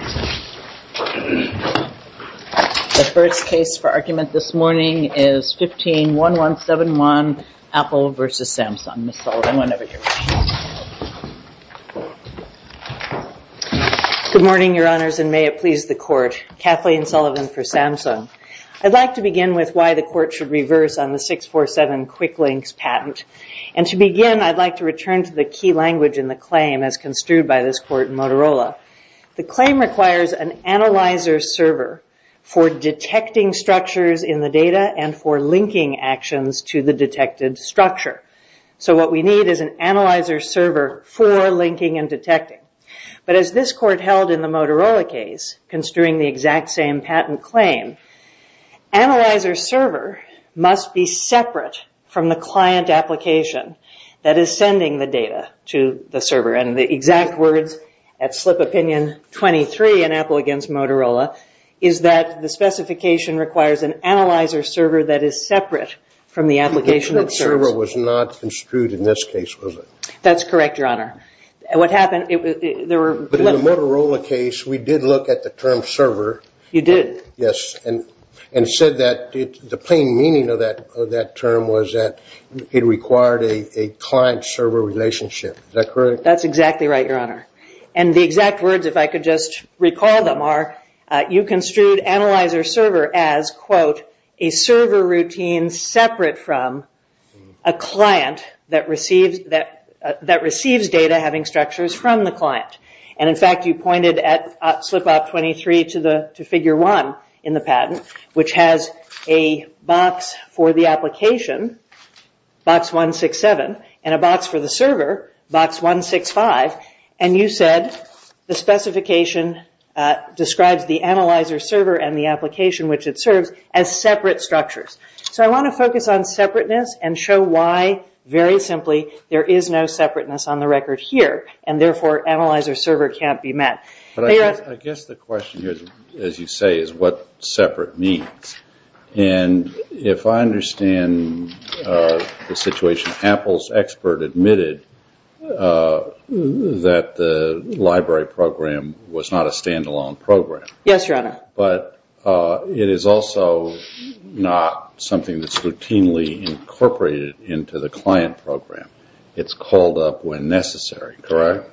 The first case for argument this morning is 15-1171, Apple v. Samsung. Ms. Sullivan, I'm going to introduce you. Good morning, Your Honors, and may it please the Court. Kathleen Sullivan for Samsung. I'd like to begin with why the Court should reverse on the 647 Quick Links patent. And to begin, I'd like to return to the key language in the claim as construed by this Court in Motorola. The claim requires an analyzer server for detecting structures in the data and for linking actions to the detected structure. So what we need is an analyzer server for linking and detecting. But as this Court held in the Motorola case, construing the exact same patent claim, analyzer server must be separate from the client application that is sending the data to the server. And the exact words at Slip Opinion 23 in Apple v. Motorola is that the specification requires an analyzer server that is separate from the application of the server. The term server was not construed in this case, was it? That's correct, Your Honor. But in the Motorola case, we did look at the term server. You did? Yes, and said that the plain meaning of that term was that it required a client-server relationship. Is that correct? That's exactly right, Your Honor. And the exact words, if I could just recall them, are you construed analyzer server as, quote, a server routine separate from a client that receives data having structures from the client. And, in fact, you pointed at Slip Op 23 to Figure 1 in the patent, which has a box for the application, Box 167, and a box for the server, Box 165. And you said the specification describes the analyzer server and the application which it serves as separate structures. So I want to focus on separateness and show why, very simply, there is no separateness on the record here. And, therefore, analyzer server can't be met. But I guess the question here, as you say, is what does separate mean? And if I understand the situation, Apple's expert admitted that the library program was not a stand-alone program. Yes, Your Honor. But it is also not something that's routinely incorporated into the client program. It's called up when necessary, correct?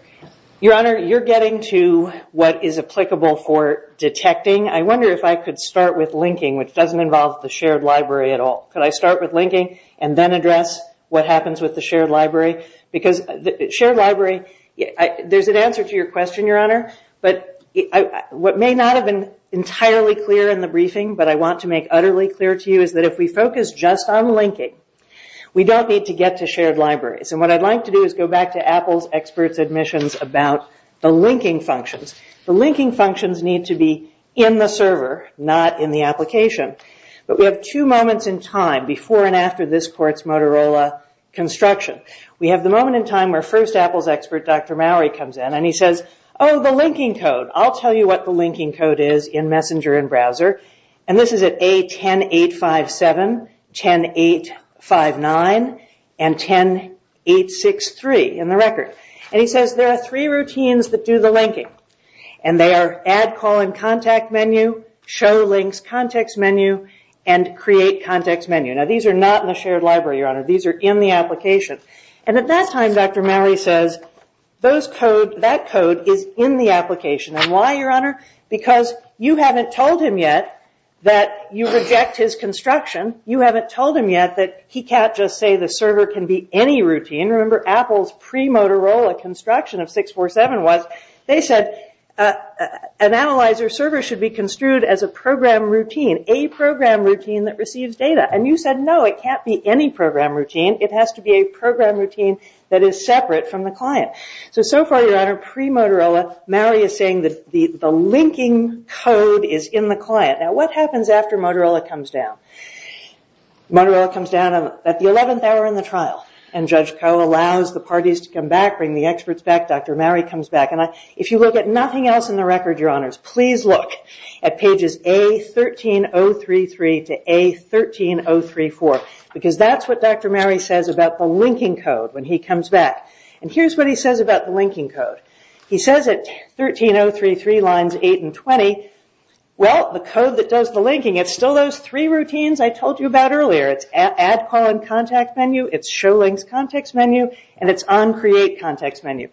Your Honor, you're getting to what is applicable for detecting. I wonder if I could start with linking, which doesn't involve the shared library at all. Could I start with linking and then address what happens with the shared library? Because shared library, there's an answer to your question, Your Honor. But what may not have been entirely clear in the briefing, but I want to make utterly clear to you, is that if we focus just on linking, we don't need to get to shared libraries. And what I'd like to do is go back to Apple's expert's admissions about the linking functions. The linking functions need to be in the server, not in the application. But we have two moments in time before and after this court's Motorola construction. We have the moment in time where first Apple's expert, Dr. Mowrey, comes in and he says, oh, the linking code. I'll tell you what the linking code is in Messenger and browser. And this is at A10857, 10859, and 10863 in the record. And he says there are three routines that do the linking. And they are add call and contact menu, show links context menu, and create context menu. Now, these are not in the shared library, Your Honor. These are in the application. And at that time, Dr. Mowrey says, those codes, that code is in the application. And why, Your Honor? Because you haven't told him yet that you reject his construction. You haven't told him yet that he can't just say the server can be any routine. And remember, Apple's pre-Motorola construction of 647 was, they said, an analyzer server should be construed as a program routine, a program routine that receives data. And you said, no, it can't be any program routine. It has to be a program routine that is separate from the client. So, so far, Your Honor, pre-Motorola, Mowrey is saying that the linking code is in the client. Now, what happens after Motorola comes down? Motorola comes down at the 11th hour in the trial, and Judge Koh allows the parties to come back, bring the experts back, Dr. Mowrey comes back. And if you look at nothing else in the record, Your Honors, please look at pages A13033 to A13034, because that's what Dr. Mowrey says about the linking code when he comes back. And here's what he says about the linking code. He says that 13033 lines 8 and 20, well, the code that does the linking, it's still those three routines I told you about earlier. It's add calling contact menu, it's show links context menu, and it's on create context menu.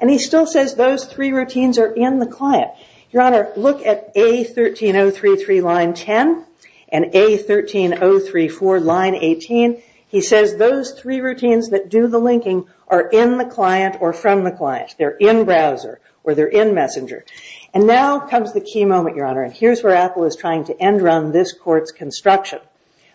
And he still says those three routines are in the client. Your Honor, look at A13033 line 10 and A13034 line 18. He says those three routines that do the linking are in the client or from the client. They're in browser or they're in messenger. And now comes the key moment, Your Honor, and here's where Apple is trying to end run this court's construction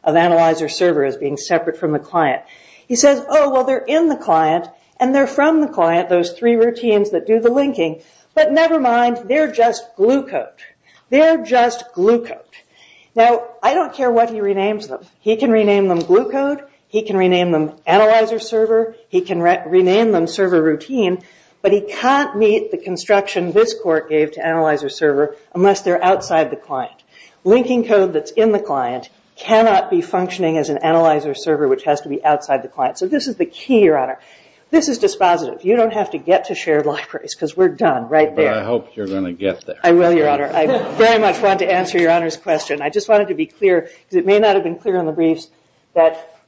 of analyzer server as being separate from the client. He says, oh, well, they're in the client, and they're from the client, those three routines that do the linking. But never mind, they're just glue code. They're just glue code. Now, I don't care what he renames them. He can rename them glue code. He can rename them analyzer server. He can rename them server routine. But he can't meet the construction this court gave to analyzer server unless they're outside the client. Linking code that's in the client cannot be functioning as an analyzer server which has to be outside the client. So this is the key, Your Honor. This is dispositive. You don't have to get to shared libraries, because we're done right there. But I hope you're going to get there. I will, Your Honor. I very much want to answer Your Honor's question. I just wanted to be clear, because it may not have been clear in the briefs, that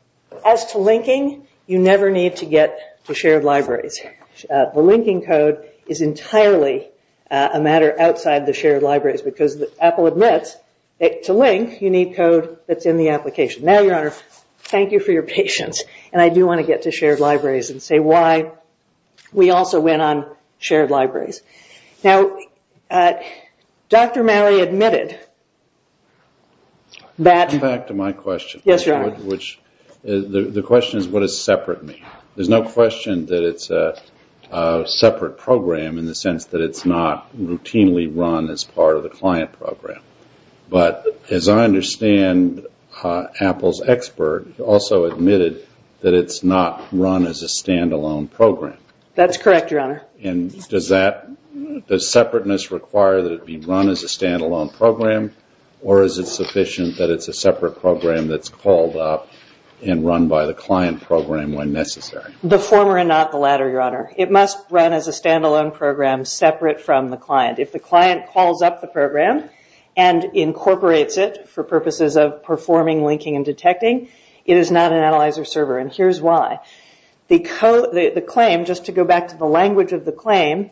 as to linking, you never need to get to shared libraries. The linking code is entirely a matter outside the shared libraries, because Apple admits that to link, you need code that's in the application. Now, Your Honor, thank you for your patience. And I do want to get to shared libraries and say why we also went on shared libraries. Now, Dr. Malley admitted that— The question is what does separate mean? There's no question that it's a separate program in the sense that it's not routinely run as part of the client program. But as I understand, Apple's expert also admitted that it's not run as a standalone program. That's correct, Your Honor. And does separateness require that it be run as a standalone program, or is it sufficient that it's a separate program that's called up and run by the client program when necessary? The former and not the latter, Your Honor. It must run as a standalone program separate from the client. If the client calls up the program and incorporates it for purposes of performing linking and detecting, it is not an analyzer server, and here's why. The claim, just to go back to the language of the claim,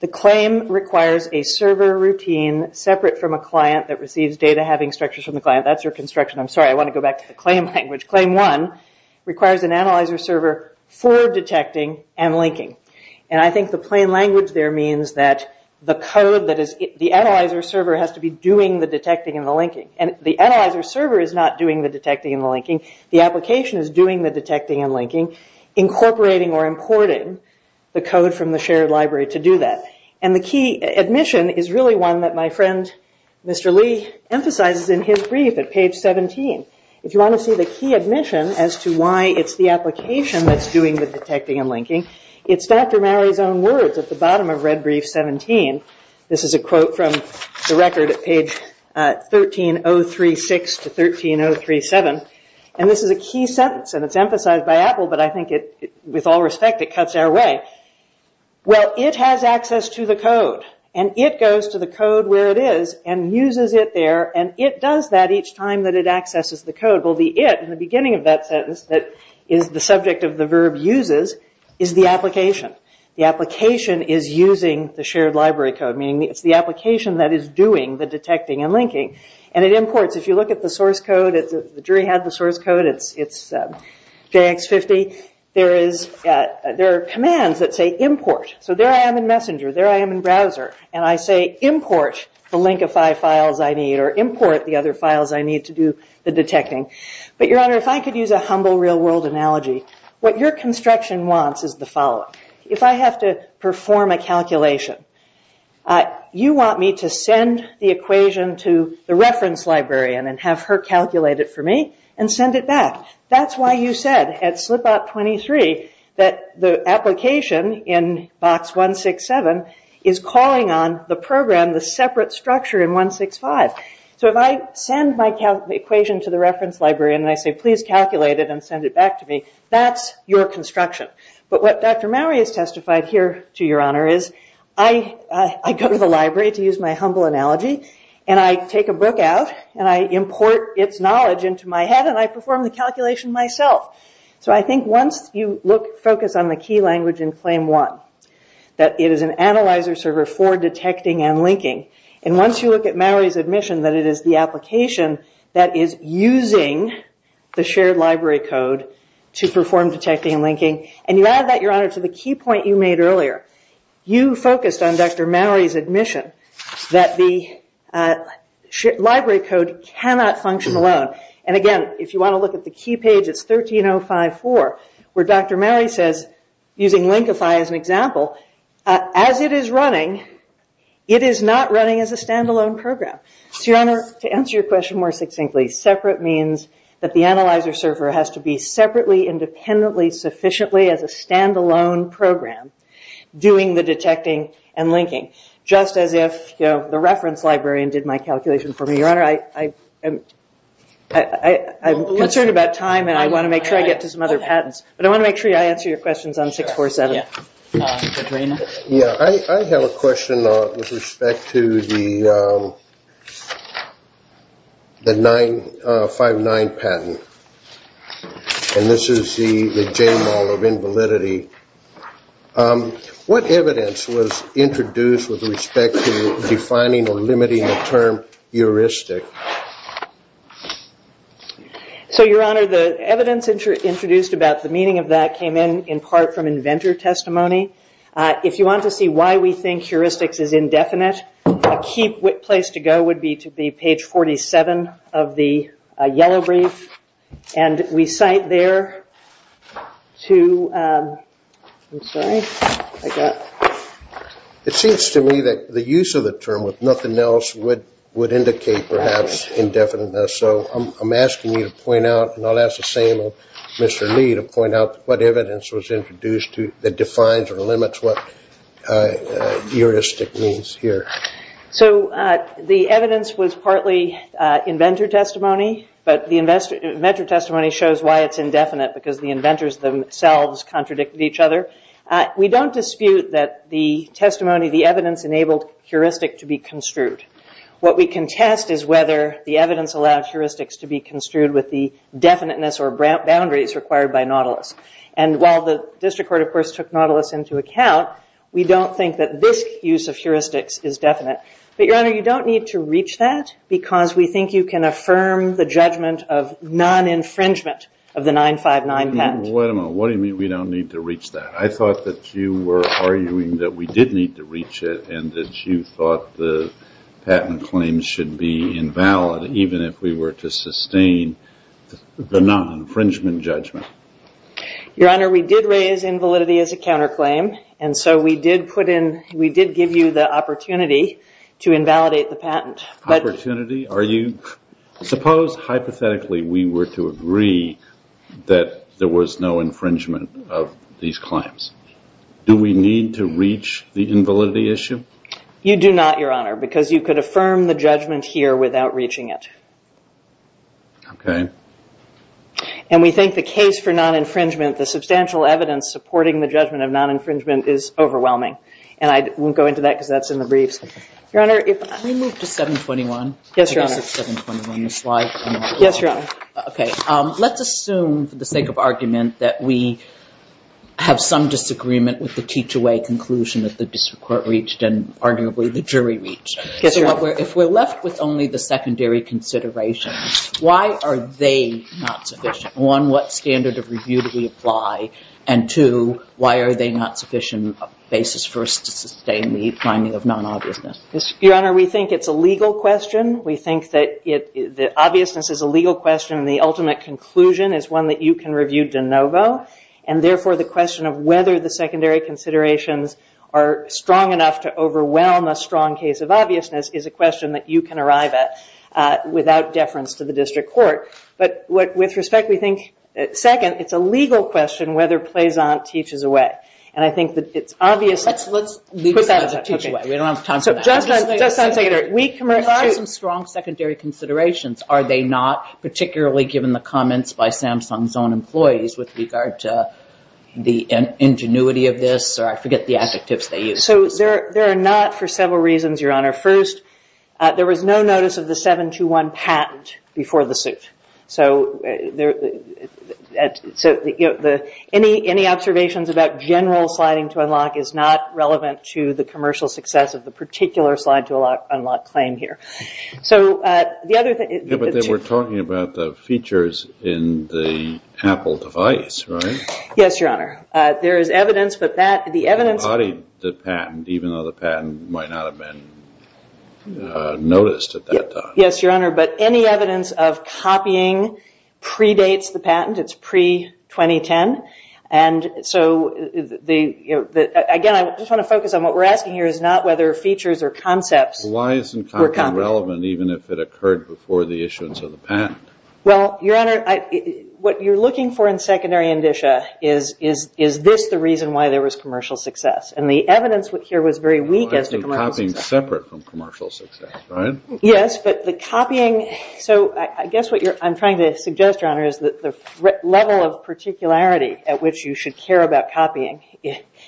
the claim requires a server routine separate from a client that receives data having structures from the client. That's your construction. I'm sorry, I want to go back to the claim language. Claim one requires an analyzer server for detecting and linking. And I think the plain language there means that the code that is— the analyzer server has to be doing the detecting and the linking. And the analyzer server is not doing the detecting and the linking. The application is doing the detecting and linking, incorporating or importing the code from the shared library to do that. And the key—admission is really one that my friend, Mr. Lee, emphasizes in his brief at page 17. If you want to see the key admission as to why it's the application that's doing the detecting and linking, it's Dr. Mary's own words at the bottom of red brief 17. This is a quote from the record at page 13036 to 13037. And this is a key sentence, and it's emphasized by Apple, but I think it—with all respect, it cuts our way. Well, it has access to the code, and it goes to the code where it is and uses it there, and it does that each time that it accesses the code. Well, the it in the beginning of that sentence that is the subject of the verb uses is the application. The application is using the shared library code, meaning it's the application that is doing the detecting and linking. And it imports. If you look at the source code, the jury has the source code. It's JX50. There are commands that say import. So there I am in Messenger. There I am in Browser, and I say import the link of five files I need or import the other files I need to do the detecting. But, Your Honor, if I could use a humble real-world analogy, what your construction wants is the following. If I have to perform a calculation, you want me to send the equation to the reference librarian and have her calculate it for me and send it back. That's why you said at slipout 23 that the application in box 167 is calling on the program, the separate structure in 165. So if I send my equation to the reference librarian and I say, please calculate it and send it back to me, that's your construction. But what Dr. Mowery has testified here to Your Honor is I go to the library, to use my humble analogy, and I take a book out and I import its knowledge into my head and I perform the calculation myself. So I think once you focus on the key language in Claim 1, that it is an analyzer server for detecting and linking, and once you look at Mowery's admission that it is the application that is using the shared library code to perform detecting and linking, and you add that, Your Honor, to the key point you made earlier. You focused on Dr. Mowery's admission that the library code cannot function alone. And again, if you want to look at the key page, it's 13054, where Dr. Mowery says, using Linkify as an example, as it is running, it is not running as a standalone program. So Your Honor, to answer your question more succinctly, separate means that the analyzer server has to be separately, independently, sufficiently as a standalone program doing the detecting and linking, just as if the reference librarian did my calculation for me. Your Honor, I'm concerned about time and I want to make sure I get to some other patents, but I want to make sure I answer your questions on 647. I have a question with respect to the 5-9 patent. And this is the J-Mall of Invalidity. What evidence was introduced with respect to defining or limiting the term heuristic? So Your Honor, the evidence introduced about the meaning of that came in, in part, from inventor testimony. If you want to see why we think heuristics is indefinite, the key place to go would be to the page 47 of the yellow brief. And we cite there to... It seems to me that the use of the term, with nothing else, would indicate perhaps indefiniteness. So I'm asking you to point out, and I'll ask the same of Mr. Lee, to point out what evidence was introduced that defines or limits what heuristic means here. So the evidence was partly inventor testimony, but the inventor testimony shows why it's indefinite, because the inventors themselves contradicted each other. We don't dispute that the testimony, the evidence, enabled heuristic to be construed. What we contest is whether the evidence allows heuristics to be construed with the definiteness or boundaries required by Nautilus. And while the district court, of course, took Nautilus into account, we don't think that this use of heuristics is definite. But Your Honor, you don't need to reach that, because we think you can affirm the judgment of non-infringement of the 959 patent. Wait a minute. What do you mean we don't need to reach that? I thought that you were arguing that we did need to reach it, and that you thought the patent claim should be invalid, even if we were to sustain the non-infringement judgment. Your Honor, we did raise invalidity as a counterclaim, and so we did give you the opportunity to invalidate the patent. Opportunity? Are you— Suppose, hypothetically, we were to agree that there was no infringement of these claims. Do we need to reach the invalidity issue? You do not, Your Honor, because you could affirm the judgment here without reaching it. Okay. And we think the case for non-infringement, the substantial evidence supporting the judgment of non-infringement, is overwhelming. And I won't go into that, because that's in the brief. Your Honor, if— Can we move to 721? Yes, Your Honor. 721. Yes, Your Honor. Okay. Let's assume, for the sake of argument, that we have some disagreement with the teach-away conclusion that the district court reached and, arguably, the jury reached. Yes, Your Honor. If we're left with only the secondary considerations, why are they not sufficient? One, what standard of review do we apply? And two, why are they not sufficient basis for us to sustain the finding of non-obviousness? Your Honor, we think it's a legal question. We think that the obviousness is a legal question, and the ultimate conclusion is one that you can review de novo. And, therefore, the question of whether the secondary considerations are strong enough to overwhelm a strong case of obviousness is a question that you can arrive at without deference to the district court. But, with respect, we think, second, it's a legal question whether Plazant teaches away. And I think that it's obvious— Let's leave that as a teach-away. We don't have time for that. Justice, let's end there. We— Are the strong secondary considerations, are they not particularly given the comments by Samsung's own employees with regard to the ingenuity of this? Or I forget the asset tips they used. So, they're not for several reasons, Your Honor. First, there was no notice of the 721 patent before the suit. So, any observations about general sliding to unlock is not relevant to the commercial success of the particular slide to unlock claim here. So, the other thing— Yeah, but they were talking about the features in the Apple device, right? Yes, Your Honor. There is evidence that that— The body of the patent, even though the patent might not have been noticed at that time. Yes, Your Honor. But any evidence of copying predates the patent. It's pre-2010. And so, again, I just want to focus on what we're asking here is not whether features or concepts— Why isn't copying relevant even if it occurred before the issuance of the patent? Well, Your Honor, what you're looking for in secondary indicia is, is this the reason why there was commercial success? And the evidence here was very weak as to commercial success. Copying separate from commercial success, right? Yes, but the copying— So, I guess what I'm trying to suggest, Your Honor, is that the level of particularity at which you should care about copying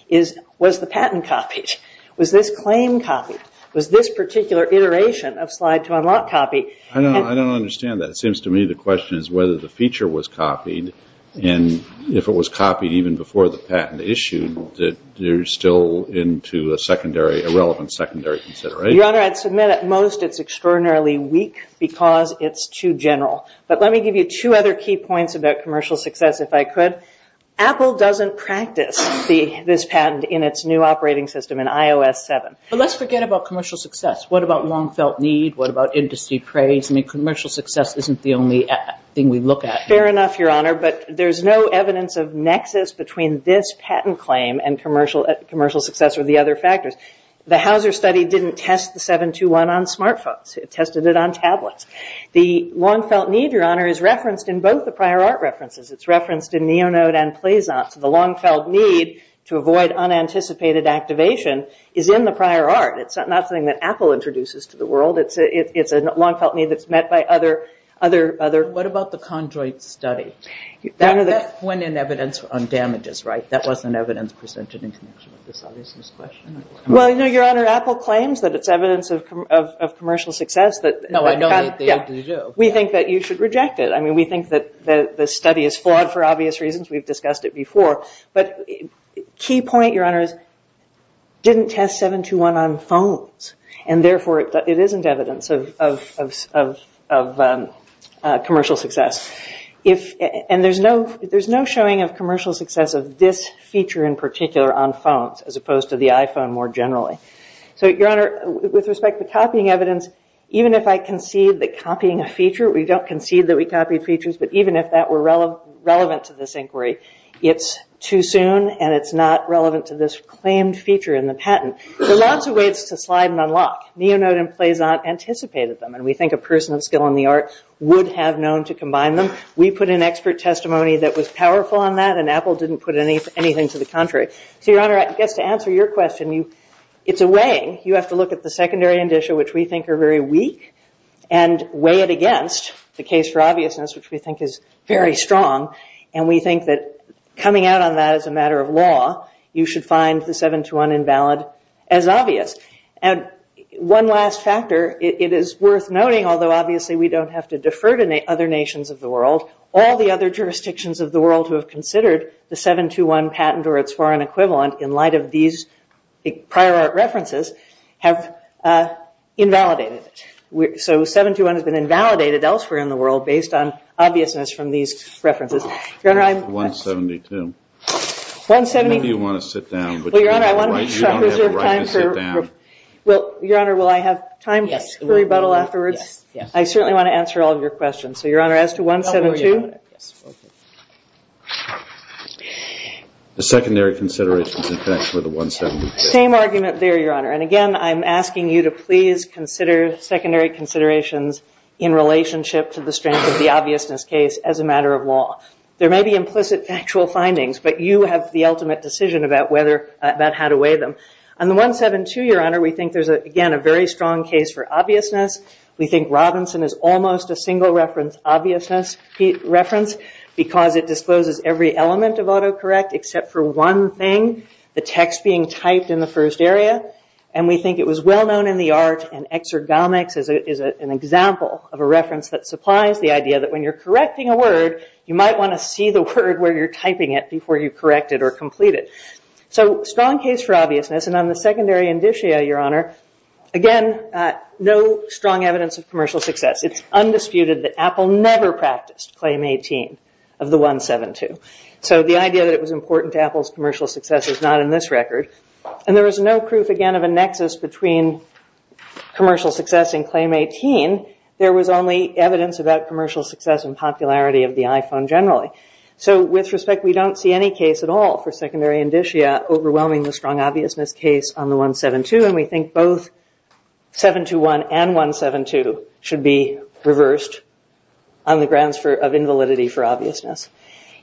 is, was the patent copied? Was this claim copied? Was this particular iteration of slide-to-unlock copied? I don't understand that. It seems to me the question is whether the feature was copied, and if it was copied even before the patent issued, that there's still into a secondary—a relevant secondary consideration. Your Honor, I'd submit at most it's extraordinarily weak because it's too general. But let me give you two other key points about commercial success, if I could. Apple doesn't practice this patent in its new operating system, in iOS 7. But let's forget about commercial success. What about long-felt need? What about industry praise? I mean, commercial success isn't the only thing we look at. Fair enough, Your Honor, but there's no evidence of nexus between this patent claim and commercial success or the other factors. The Hauser study didn't test the 721 on smartphones. It tested it on tablets. The long-felt need, Your Honor, is referenced in both the prior art references. It's referenced in Neonode and Plaisance. The long-felt need to avoid unanticipated activation is in the prior art. It's not something that Apple introduces to the world. It's a long-felt need that's met by other— What about the Condroit study? That went in evidence on damages, right? That wasn't evidence presented in connection with this obviousness question. Well, Your Honor, Apple claims that it's evidence of commercial success. No, I know that they used to do. We think that you should reject it. I mean, we think that the study is flawed for obvious reasons. We've discussed it before. But the key point, Your Honor, is it didn't test 721 on phones, and therefore it isn't evidence of commercial success. And there's no showing of commercial success of this feature in particular on phones as opposed to the iPhone more generally. So, Your Honor, with respect to copying evidence, even if I concede that copying a feature—we don't concede that we copied features, but even if that were relevant to this inquiry, it's too soon and it's not relevant to this claimed feature in the patent. There are lots of ways to slide and unlock. Neonode and Plaisant anticipated them, and we think a person with skill in the arts would have known to combine them. We put in expert testimony that was powerful on that, and Apple didn't put anything to the contrary. So, Your Honor, to answer your question, it's a way. You have to look at the secondary indicia, which we think are very weak, and weigh it against the case for obviousness, which we think is very strong. And we think that coming out on that as a matter of law, you should find the 721 invalid as obvious. And one last factor, it is worth noting, although obviously we don't have to defer to other nations of the world, all the other jurisdictions of the world who have considered the 721 patent or its foreign equivalent in light of these prior art references have invalidated it. So, 721 has been invalidated elsewhere in the world based on obviousness from these references. Your Honor, I'm... 172. 172... Why do you want to sit down? Well, Your Honor, I want to reserve time for... Why do you want everyone to sit down? Well, Your Honor, will I have time to rebuttal afterwards? Yes. I certainly want to answer all of your questions. So, Your Honor, as to 172... The secondary considerations, in fact, were the 172. Same argument there, Your Honor. And, again, I'm asking you to please consider secondary considerations in relationship to the strength of the obviousness case as a matter of law. There may be implicit factual findings, but you have the ultimate decision about how to weigh them. On the 172, Your Honor, we think there's, again, a very strong case for obviousness. We think Robinson is almost a single-reference obviousness reference because it disposes every element of autocorrect except for one thing, the text being typed in the first area. And we think it was well-known in the arts, and Exergalmics is an example of a reference that supplies the idea that when you're correcting a word, you might want to see the word where you're typing it before you correct it or complete it. So, strong case for obviousness. And on the secondary indicia, Your Honor, again, no strong evidence of commercial success. It's undisputed that Apple never practiced Claim 18 of the 172. So the idea that it was important to Apple's commercial success is not in this record. And there is no proof, again, of a nexus between commercial success and Claim 18. There was only evidence about commercial success and popularity of the iPhone generally. So, with respect, we don't see any case at all for secondary indicia overwhelming the strong obviousness case on the 172, and we think both 721 and 172 should be reversed on the grounds of invalidity for obviousness.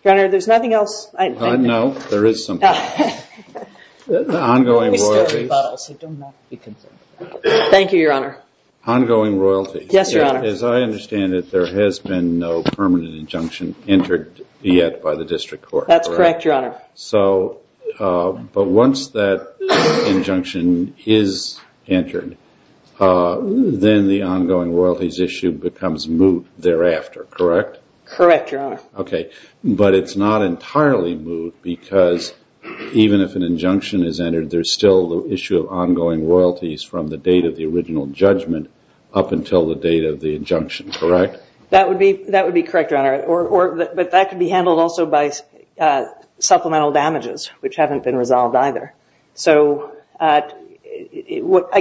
Your Honor, there's nothing else? No, there is something. Ongoing royalties. Thank you, Your Honor. Ongoing royalties. Yes, Your Honor. As I understand it, there has been no permanent injunction entered yet by the district court. That's correct, Your Honor. So, but once that injunction is entered, then the ongoing royalties issue becomes moot thereafter, correct? Correct, Your Honor. Okay. But it's not entirely moot because even if an injunction is entered, there's still the issue of ongoing royalties from the date of the original judgment up until the date of the injunction, correct? That would be correct, Your Honor. But that could be handled also by supplemental damages, which haven't been resolved either. So, I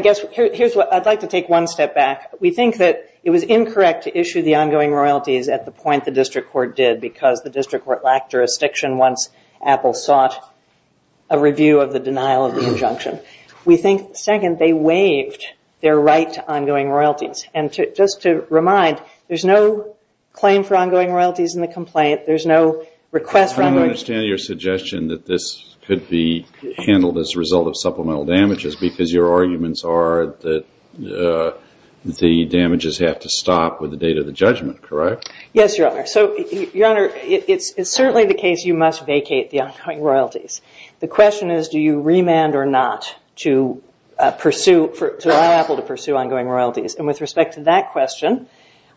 guess, here's what, I'd like to take one step back. We think that it was incorrect to issue the ongoing royalties at the point the district court did because the district court lacked jurisdiction once Apple sought a review of the denial of the injunction. We think, second, they waived their right to ongoing royalties. And just to remind, there's no claim for ongoing royalties in the complaint. There's no request for ongoing royalties. I don't understand your suggestion that this could be handled as a result of supplemental damages because your arguments are that the damages have to stop with the date of the judgment, correct? Yes, Your Honor. So, Your Honor, it's certainly the case you must vacate the ongoing royalties. The question is do you remand or not to allow Apple to pursue ongoing royalties. And with respect to that question,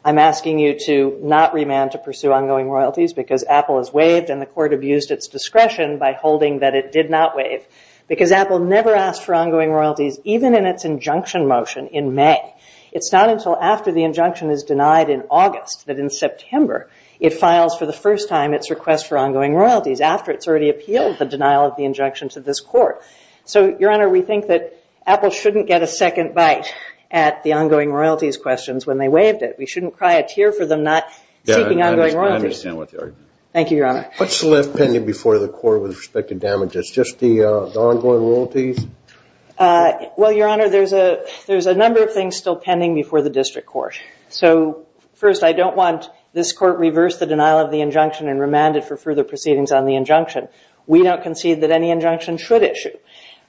I'm asking you to not remand to pursue ongoing royalties because Apple has waived and the court abused its discretion by holding that it did not waive because Apple never asks for ongoing royalties even in its injunction motion in May. It's not until after the injunction is denied in August that in September it files for the first time its request for ongoing royalties after it's already appealed the denial of the injunctions of this court. So, Your Honor, we think that Apple shouldn't get a second bite at the ongoing royalties questions when they waived it. We shouldn't cry a tear for them not seeking ongoing royalties. I understand what you're arguing. Thank you, Your Honor. What's left pending before the court with respect to damages? Just the ongoing royalties? Well, Your Honor, there's a number of things still pending before the district court. So, first, I don't want this court reverse the denial of the injunction and remand it for further proceedings on the injunction. We don't concede that any injunction should issue.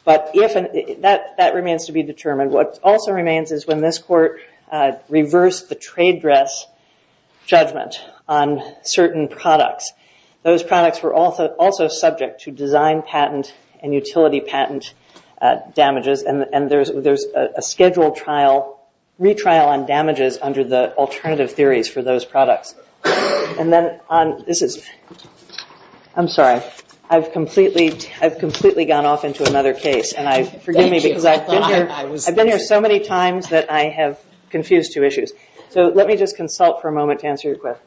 But that remains to be determined. What also remains is when this court reversed the trade dress judgment on certain products. Those products were also subject to design patent and utility patent damages. And there's a scheduled trial, retrial on damages under the alternative theories for those products. And then on this is, I'm sorry, I've completely gone off into another case. I've been here so many times that I have confused two issues. So let me just consult for a moment to answer your question.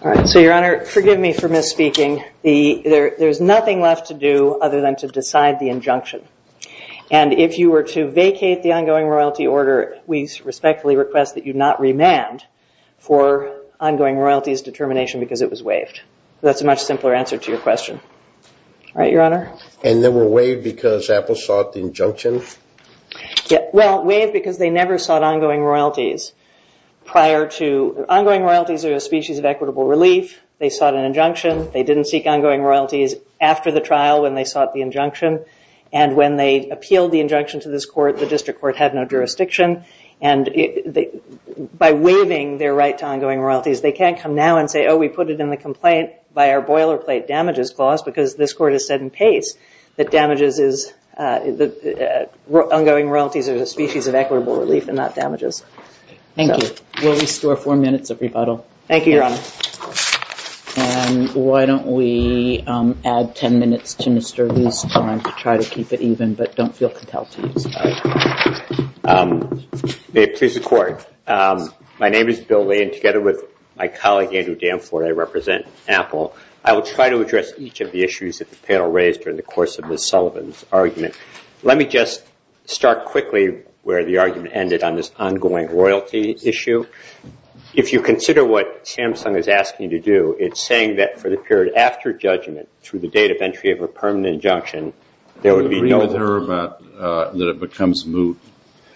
All right. So, Your Honor, forgive me for misspeaking. There's nothing left to do other than to decide the injunction. And if you were to vacate the ongoing royalty order, we respectfully request that you not remand for ongoing royalties determination because it was waived. So that's a much simpler answer to your question. All right, Your Honor. And they were waived because Apple sought the injunction? Well, waived because they never sought ongoing royalties prior to... Ongoing royalties are a species of equitable relief. They sought an injunction. They didn't seek ongoing royalties after the trial when they sought the injunction. And when they appealed the injunction to this court, the district court had no jurisdiction. And by waiving their right to ongoing royalties, they can't come now and say, oh, we put it in the complaint by our boilerplate damages clause because this court has said in case that damages is... ongoing royalties are a species of equitable relief and not damages. Thank you. Will we store four minutes of rebuttal? Thank you, Your Honor. And why don't we add ten minutes to Mr. Lee's time to try to keep it even, but don't feel compelled to. All right. May it please the Court. My name is Bill Lee, and together with my colleague, Andrew Danforth, I represent Apple. I will try to address each of the issues that the panel raised during the course of Ms. Sullivan's argument. Let me just start quickly where the argument ended on this ongoing royalty issue. If you consider what Samsung is asking you to do, it's saying that for the period after judgment, through the date of entry of a permanent injunction, there would be no... It would be clear that it becomes moot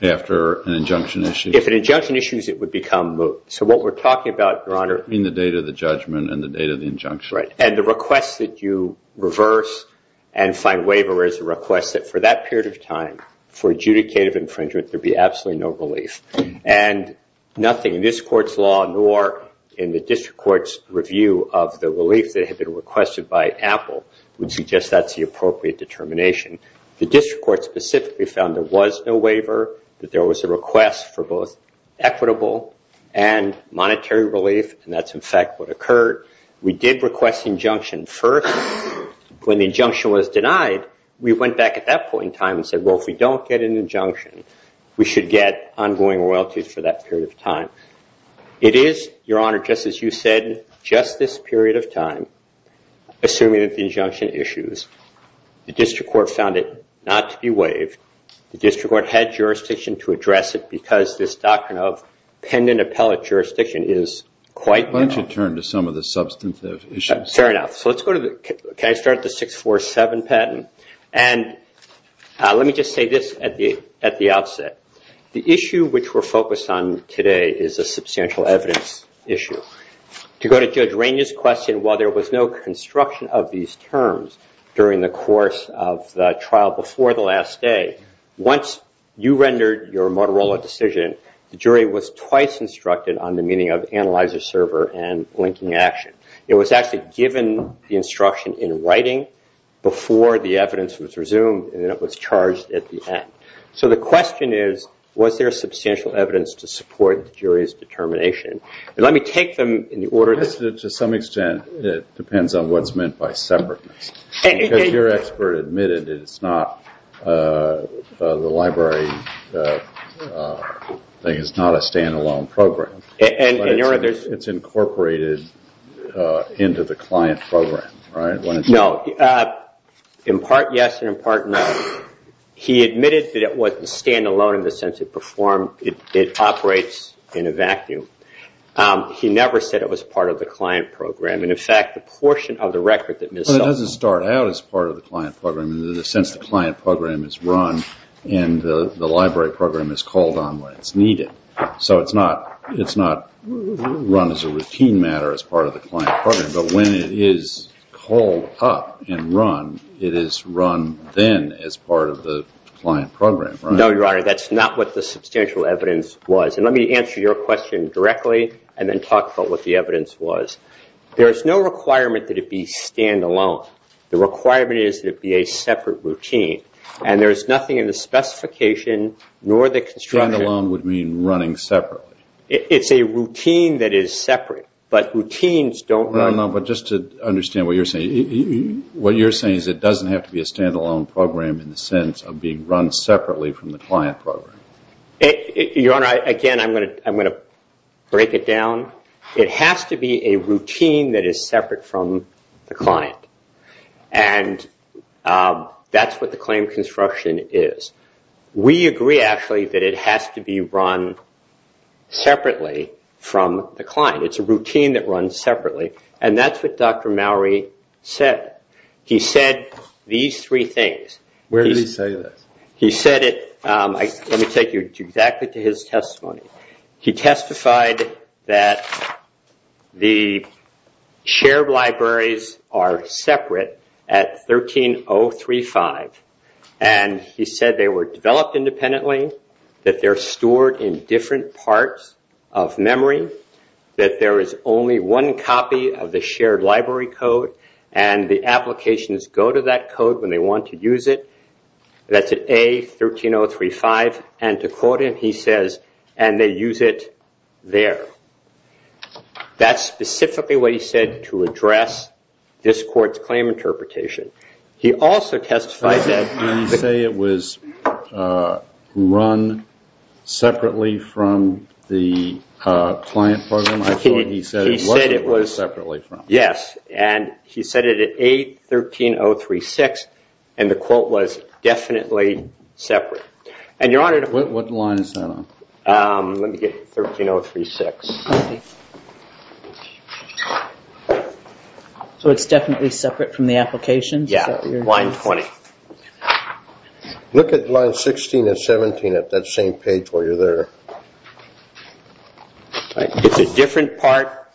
after an injunction issue. If an injunction issues, it would become moot. So what we're talking about, Your Honor... Between the date of the judgment and the date of the injunction. Right. And the request that you reverse and find waiver is a request that for that period of time, for adjudicative infringement, there would be absolutely no relief. And nothing in this court's law nor in the district court's review of the relief that had been requested by Apple would suggest that's the appropriate determination. The district court specifically found there was no waiver, that there was a request for both equitable and monetary relief, and that's, in fact, what occurred. We did request injunction first. When the injunction was denied, we went back at that point in time and said, well, if we don't get an injunction, we should get ongoing royalties for that period of time. It is, Your Honor, just as you said, just this period of time, assuming that the injunction issues. The district court found it not to be waived. The district court had jurisdiction to address it because this doctrine of pendant appellate jurisdiction is quite... Why don't you turn to some of the substantive issues? Fair enough. So let's go to the... Can I start the 647 patent? And let me just say this at the outset. The issue which we're focused on today is a substantial evidence issue. To go to Judge Rainey's question, while there was no construction of these terms during the course of the trial before the last day, once you rendered your Motorola decision, the jury was twice instructed on the meaning of analyzer server and linking action. It was actually given the instruction in writing before the evidence was resumed, and it was charged at the end. So the question is, was there substantial evidence to support the jury's determination? And let me take them in the order... To some extent, it depends on what's meant by separateness. Because your expert admitted it's not... The library thing is not a standalone program. It's incorporated into the client program, right? No. In part, yes, and in part, no. He admitted that it wasn't standalone in the sense it performed... It operates in a vacuum. He never said it was part of the client program. And, in fact, a portion of the record that... It doesn't start out as part of the client program. In the sense, the client program is run, and the library program is called on when it's needed. So it's not run as a routine matter as part of the client program, but when it is called up and run, it is run then as part of the client program. No, Your Honor, that's not what the substantial evidence was. And let me answer your question directly and then talk about what the evidence was. There's no requirement that it be standalone. The requirement is that it be a separate routine. And there's nothing in the specification, nor the construction... Standalone would mean running separately. It's a routine that is separate, but routines don't run... No, no, but just to understand what you're saying, what you're saying is it doesn't have to be a standalone program in the sense of being run separately from the client program. Your Honor, again, I'm going to break it down. It has to be a routine that is separate from the client, and that's what the claim construction is. We agree, actually, that it has to be run separately from the client. It's a routine that runs separately, and that's what Dr. Mowery said. He said these three things. Where did he say that? He said it... Let me take you back to his testimony. He testified that the shared libraries are separate at 13035, and he said they were developed independently, that they're stored in different parts of memory, that there is only one copy of the shared library code, and the applications go to that code when they want to use it. That's at A13035. And to quote him, he says, and they use it there. That's specifically what he said to address this court's claim interpretation. He also testified that... Did he say it was run separately from the client program? I thought he said it was run separately from. Yes, and he said it at A13036, and the quote was definitely separate. And, Your Honor... What line is that on? Let me get to 13036. Sorry. So it's definitely separate from the application? Yes, line 20. Look at line 16 and 17 at that same page where you're there. It's a different part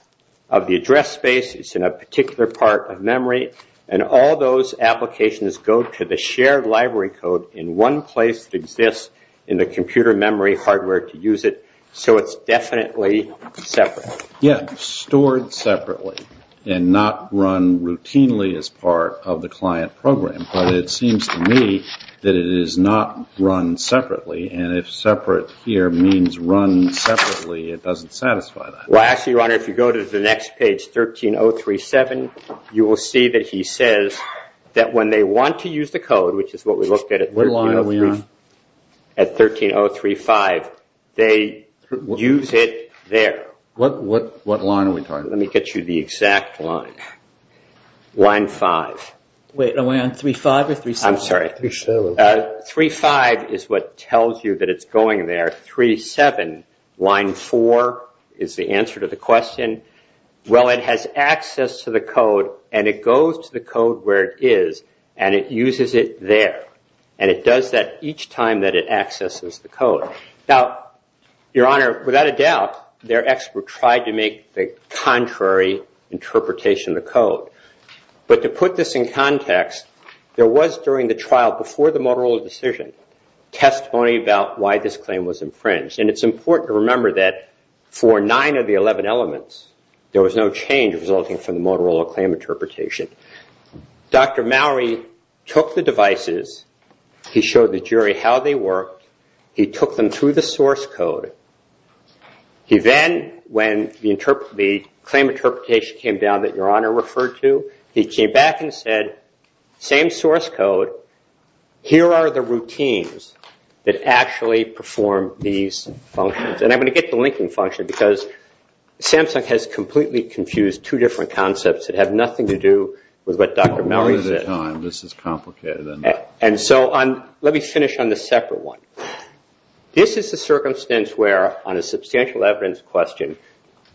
of the address space. It's in a particular part of memory, and all those applications go to the shared library code in one place that exists in the computer memory hardware to use it. So it's definitely separate. Yes, stored separately and not run routinely as part of the client program. But it seems to me that it is not run separately, and if separate here means run separately, it doesn't satisfy that. Well, actually, Your Honor, if you go to the next page, 13037, you will see that he says that when they want to use the code, which is what we looked at at 13035, they use it there. What line are we talking about? Let me get you the exact line, line 5. Wait, am I on 35 or 37? I'm sorry. 35 is what tells you that it's going there. 37, line 4, is the answer to the question. Well, it has access to the code, and it goes to the code where it is, and it uses it there. And it does that each time that it accesses the code. Now, Your Honor, without a doubt, their expert tried to make the contrary interpretation of the code. But to put this in context, there was, during the trial before the Motorola decision, testimony about why this claim was infringed. And it's important to remember that for nine of the 11 elements, there was no change resulting from the Motorola claim interpretation. Dr. Mowrey took the devices. He showed the jury how they worked. He took them through the source code. He then, when the claim interpretation came down that Your Honor referred to, he came back and said, same source code, here are the routines that actually perform these functions. And I'm going to get the linking function, because Samsung has completely confused two different concepts that have nothing to do with what Dr. Mowrey said. This is complicated. And so let me finish on the separate one. This is the circumstance where, on a substantial evidence question,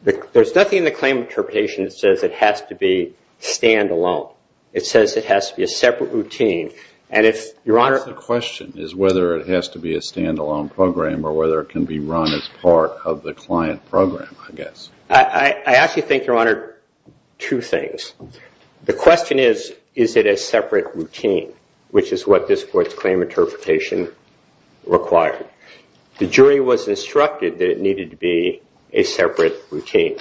there's nothing in the claim interpretation that says it has to be stand-alone. It says it has to be a separate routine. The question is whether it has to be a stand-alone program or whether it can be run as part of the client program, I guess. I actually think, Your Honor, two things. The question is, is it a separate routine, which is what this court's claim interpretation required. The jury was instructed that it needed to be a separate routine.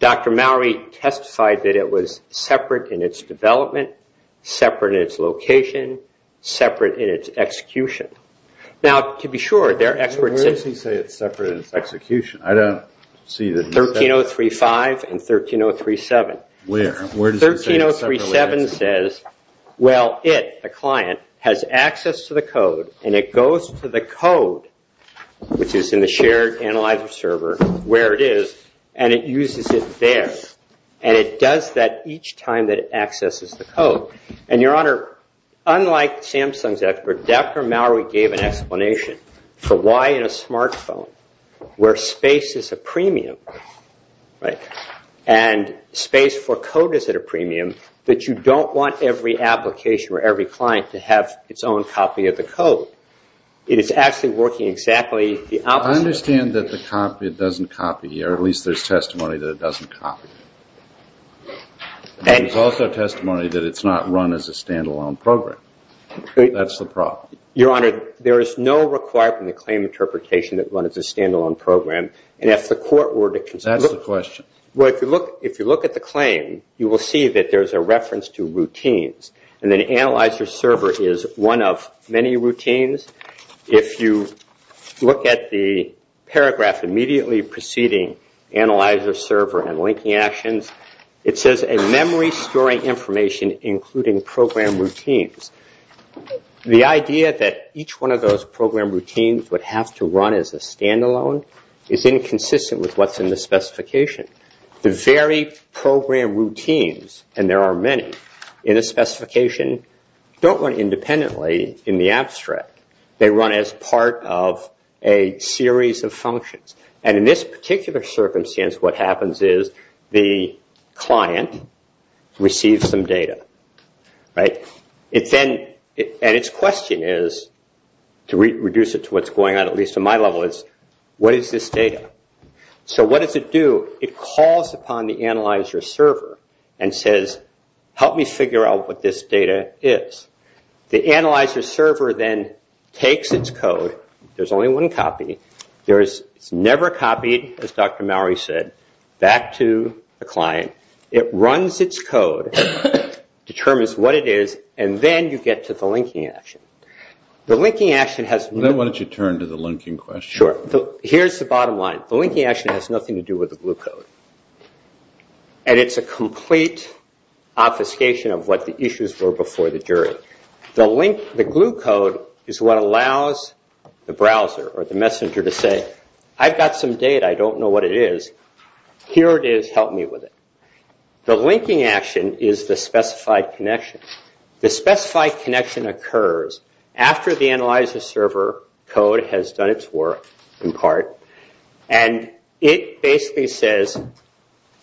Dr. Mowrey testified that it was separate in its development, separate in its location, separate in its execution. Now, to be sure, there are experts in this. I don't see the difference. 13035 and 13037. Where? 13037 says, well, it, the client, has access to the code, and it goes to the code, which is in the shared analyzer server, where it is, and it uses it there. And it does that each time that it accesses the code. And, Your Honor, unlike Samsung's effort, Dr. Mowrey gave an explanation for why in a smartphone, where space is the premium, right, and space for code is at a premium, that you don't want every application or every client to have its own copy of the code. It is actually working exactly the opposite. I understand that the copy doesn't copy, or at least there's testimony that it doesn't copy. There's also testimony that it's not run as a stand-alone program. That's the problem. Your Honor, there is no requirement in the claim interpretation that it run as a stand-alone program. And if the court were to consider... That's the question. Well, if you look at the claim, you will see that there's a reference to routines, and then analyzer server is one of many routines. If you look at the paragraph immediately preceding analyzer server and linking action, it says, memory storing information including program routines. The idea that each one of those program routines would have to run as a stand-alone is inconsistent with what's in the specification. The very program routines, and there are many in the specification, don't run independently in the abstract. They run as part of a series of functions. And in this particular circumstance, what happens is the client receives some data. And its question is, to reduce it to what's going on at least on my level, what is this data? So what does it do? It calls upon the analyzer server and says, help me figure out what this data is. The analyzer server then takes its code. There's only one copy. There is never a copy, as Dr. Mowrey said, back to the client. It runs its code, determines what it is, and then you get to the linking action. Then why don't you turn to the linking question. Here's the bottom line. The linking action has nothing to do with the glue code. And it's a complete obfuscation of what the issues were before the jury. The glue code is what allows the browser or the messenger to say, I've got some data. I don't know what it is. Here it is. Help me with it. The linking action is the specified connection. The specified connection occurs after the analyzer server code has done its work, in part. And it basically says,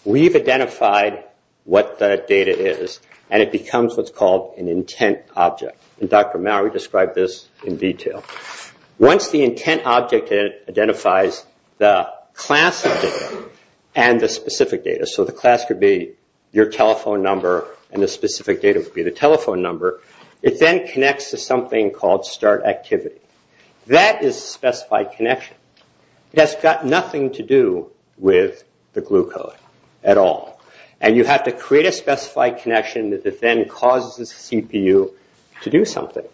we've identified what the data is. And it becomes what's called an intent object. And Dr. Mowrey described this in detail. Once the intent object identifies the class of data and the specific data, so the class could be your telephone number and the specific data would be the telephone number, it then connects to something called start activity. That is specified connection. That's got nothing to do with the glue code at all. And you have to create a specified connection that then causes the CPU to do something.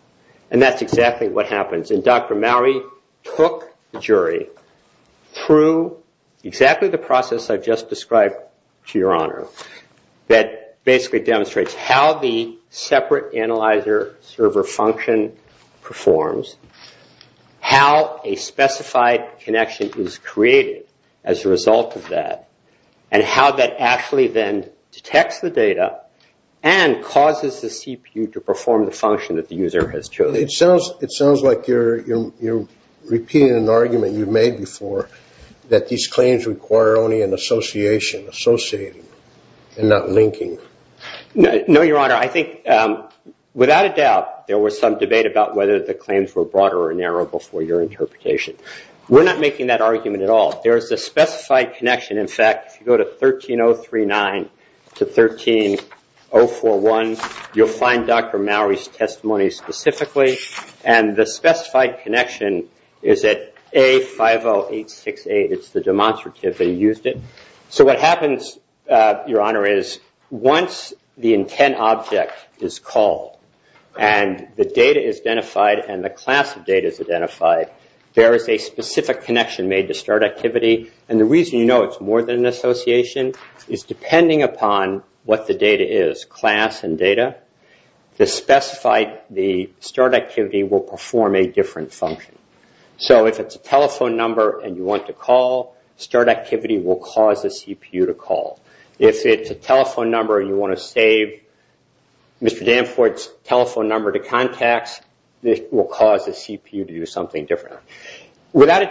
And that's exactly what happens. And Dr. Mowrey took the jury through exactly the process I've just described, to your honor, that basically demonstrates how the separate analyzer server function performs, how a specified connection is created as a result of that, and how that actually then detects the data and causes the CPU to perform the function that the user has chosen. It sounds like you're repeating an argument you've made before that these claims require only an association, associating, and not linking. No, your honor. I think, without a doubt, there was some debate about whether the claims were broader or narrow before your interpretation. We're not making that argument at all. There's a specified connection, in fact. If you go to 13039 to 13041, you'll find Dr. Mowrey's testimony specifically. And the specified connection is at A50868. It's the demonstrative that he used it. So what happens, your honor, is once the intent object is called and the data is identified and the class of data is identified, there is a specific connection made to start activity. And the reason you know it's more than an association is depending upon what the data is, class and data, the specified start activity will perform a different function. So if it's a telephone number and you want to call, start activity will cause the CPU to call. If it's a telephone number and you want to save Mr. Danforth's telephone number to contacts, it will cause the CPU to do something different. Without a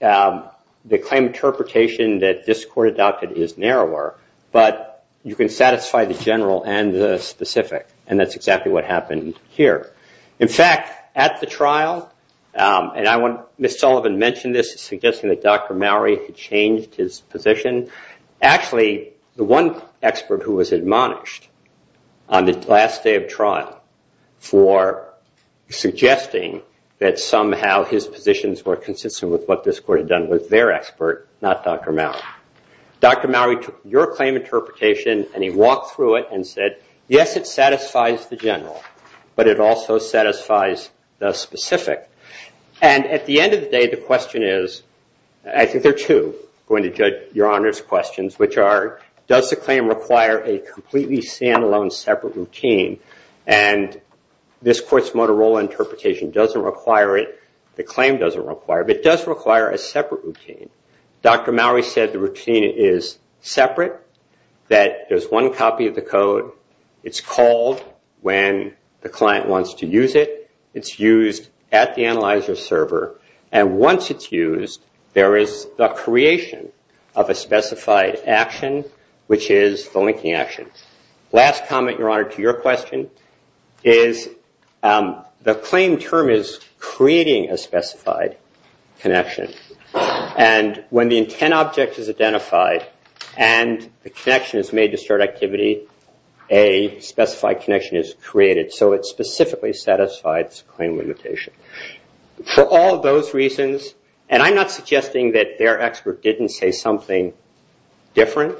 doubt, the claim interpretation that this court adopted is narrower, but you can satisfy the general and the specific, and that's exactly what happened here. In fact, at the trial, and Ms. Sullivan mentioned this, suggesting that Dr. Mowrey had changed his position. Actually, the one expert who was admonished on the last day of trial for suggesting that somehow his positions were consistent with what this court had done was their expert, not Dr. Mowrey. Dr. Mowrey took your claim interpretation and he walked through it and said, yes, it satisfies the general, but it also satisfies the specific. And at the end of the day, the question is, I think there are two going to judge your Honor's questions, which are does the claim require a completely stand-alone separate routine? And this court's Motorola interpretation doesn't require it, the claim doesn't require it, but it does require a separate routine. Dr. Mowrey said the routine is separate, that there's one copy of the code, it's called when the client wants to use it, it's used at the analyzer server, and once it's used, there is the creation of a specified action, which is the linking action. Last comment, Your Honor, to your question is the claim term is creating a specified connection, and when the intent object is identified and the connection is made to start activity, a specified connection is created, so it specifically satisfies claim limitation. For all those reasons, and I'm not suggesting that their expert didn't say something different,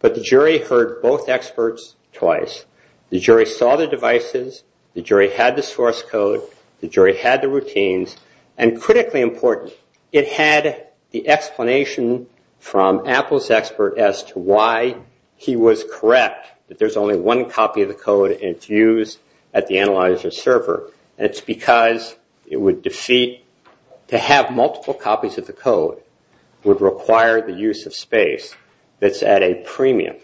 but the jury heard both experts twice. The jury saw the devices, the jury had the source code, the jury had the routines, and critically important, it had the explanation from Apple's expert as to why he was correct, that there's only one copy of the code and it's used at the analyzer server. And it's because it would defeat, to have multiple copies of the code would require the use of space that's at a premium,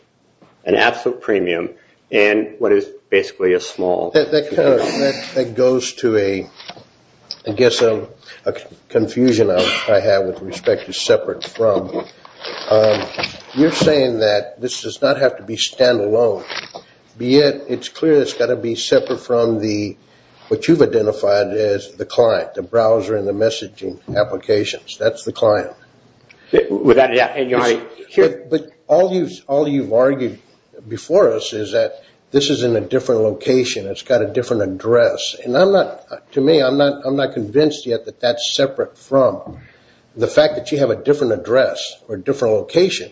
an absolute premium in what is basically a small... That goes to a, I guess a confusion I have with respect to separate from. You're saying that this does not have to be standalone, be it, it's clear it's got to be separate from the, what you've identified as the client, the browser and the messaging applications, that's the client. But all you've argued before us is that this is in a different location, it's got a different address, and I'm not, to me, I'm not convinced yet that that's separate from the fact that you have a different address or a different location,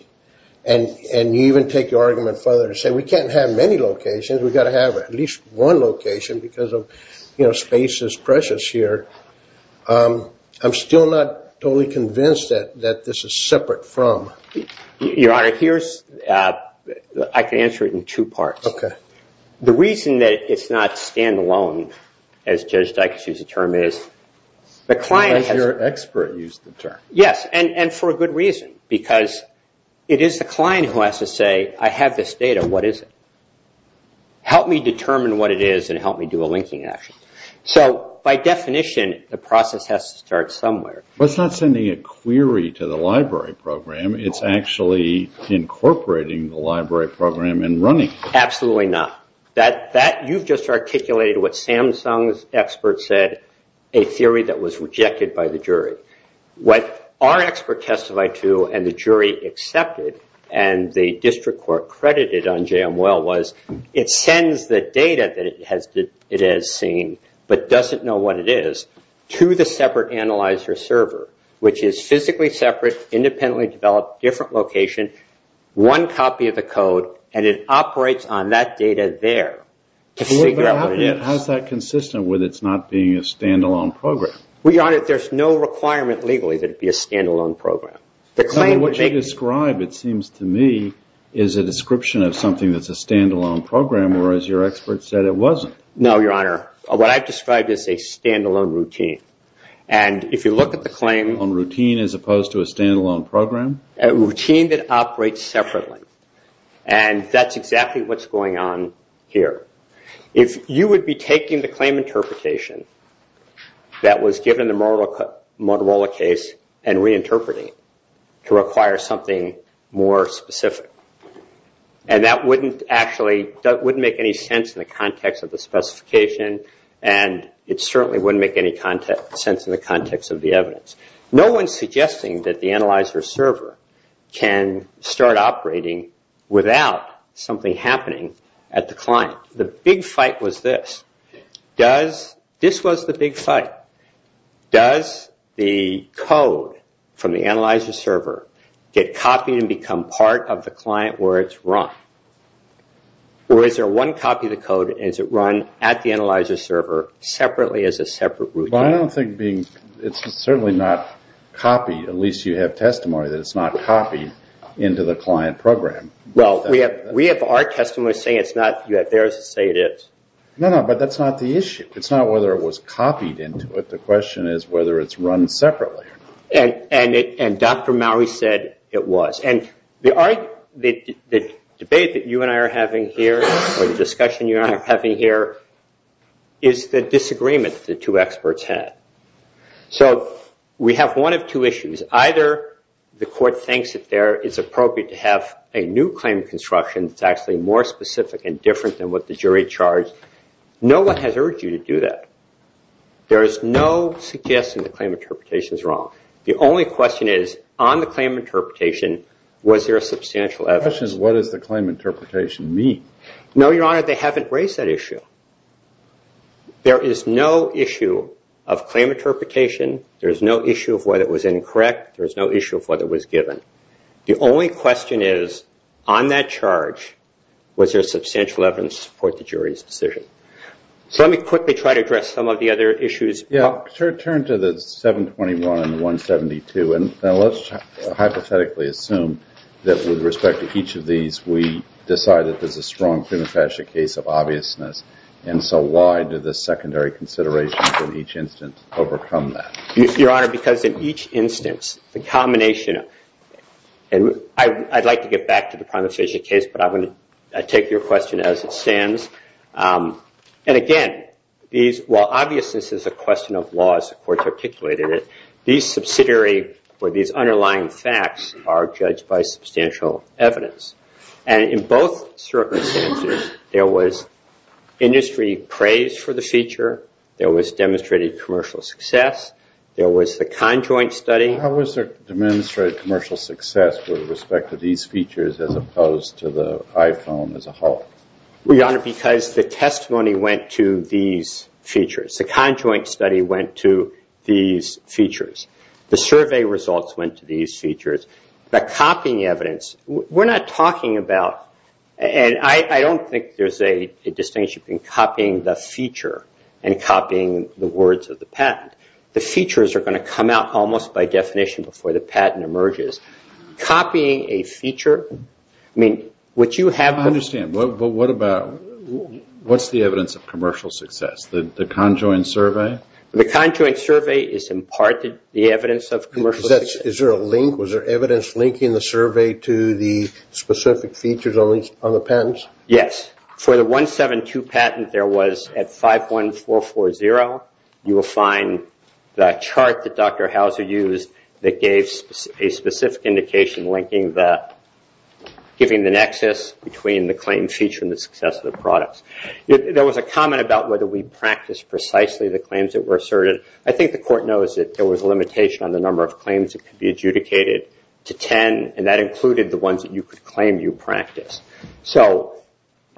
and you even take your argument further and say we can't have many locations, we've got to have at least one location because of, you know, space is precious here. I'm still not totally convinced that this is separate from. Your Honor, here's, I can answer it in two parts. Okay. The reason that it's not standalone, as Judge Dykes used the term, is the client... And your expert used the term. Yes, and for a good reason, because it is the client who has to say, I have this data, what is it? Help me determine what it is and help me do a linking action. So, by definition, the process has to start somewhere. But it's not sending a query to the library program, it's actually incorporating the library program and running it. Absolutely not. That, you've just articulated what Samsung's expert said, a theory that was rejected by the jury. What our expert testified to and the jury accepted and the district court credited on JML was, it sends the data that it has seen, but doesn't know what it is, to the separate analyzer server, which is physically separate, independently developed, different location, one copy of the code, and it operates on that data there to figure out what it is. How is that consistent with it not being a standalone program? Well, Your Honor, there's no requirement legally that it be a standalone program. What you describe, it seems to me, is a description of something that's a standalone program, whereas your expert said it wasn't. No, Your Honor. What I've described is a standalone routine. And if you look at the claim... Routine as opposed to a standalone program? A routine that operates separately. And that's exactly what's going on here. If you would be taking the claim interpretation that was given in the Motorola case and reinterpreting it to require something more specific, and that wouldn't actually make any sense in the context of the specification, and it certainly wouldn't make any sense in the context of the evidence. No one's suggesting that the analyzer server can start operating without something happening at the client. The big fight was this. This was the big fight. Does the code from the analyzer server get copied and become part of the client where it's run? Or is there one copy of the code and is it run at the analyzer server separately as a separate routine? Well, I don't think being... It's certainly not copied. At least you have testimony that it's not copied into the client program. Well, we have our testimony saying it's not theirs to say it is. No, no, but that's not the issue. It's not whether it was copied into it. The question is whether it's run separately. And Dr. Mowrey said it was. And the debate that you and I are having here, or the discussion you and I are having here, is the disagreement the two experts had. So we have one of two issues. Either the court thinks that there is appropriate to have a new claim construction that's actually more specific and different than what the jury charged. No one has urged you to do that. There is no suggesting the claim interpretation is wrong. The only question is, on the claim interpretation, was there a substantial evidence? The question is, what does the claim interpretation mean? No, Your Honor, they haven't raised that issue. There is no issue of claim interpretation. There is no issue of whether it was incorrect. There is no issue of whether it was given. The only question is, on that charge, was there substantial evidence to support the jury's decision? So let me quickly try to address some of the other issues. Yeah, I'll turn to the 721-172. Now, let's hypothetically assume that, with respect to each of these, we decide that this is a strong prima facie case of obviousness, and so why did the secondary consideration from each instance overcome that? Your Honor, because in each instance, the combination of – and I'd like to get back to the prima facie case, but I'll take your question as it stands. And, again, while obviousness is a question of laws, the court's articulated it, these subsidiary or these underlying facts are judged by substantial evidence. And in both circumstances, there was industry praise for the feature. There was demonstrated commercial success. There was the conjoint study. How was there demonstrated commercial success with respect to these features as opposed to the iPhone as a whole? Your Honor, because the testimony went to these features. The conjoint study went to these features. The survey results went to these features. The copying evidence, we're not talking about – and I don't think there's a distinction between copying the feature and copying the words of the patent. The features are going to come out almost by definition before the patent emerges. Copying a feature, I mean, would you have – I understand, but what about – what's the evidence of commercial success? The conjoint survey? The conjoint survey is, in part, the evidence of commercial success. Is there a link? Was there evidence linking the survey to the specific features on the patents? Yes. For the 172 patent, there was, at 51440, you will find the chart that Dr. Hauser used that gave a specific indication linking the – giving the nexus between the claimed feature and the success of the product. There was a comment about whether we practiced precisely the claims that were asserted. I think the court knows that there was a limitation on the number of claims that could be adjudicated to 10, and that included the ones that you could claim you practiced. So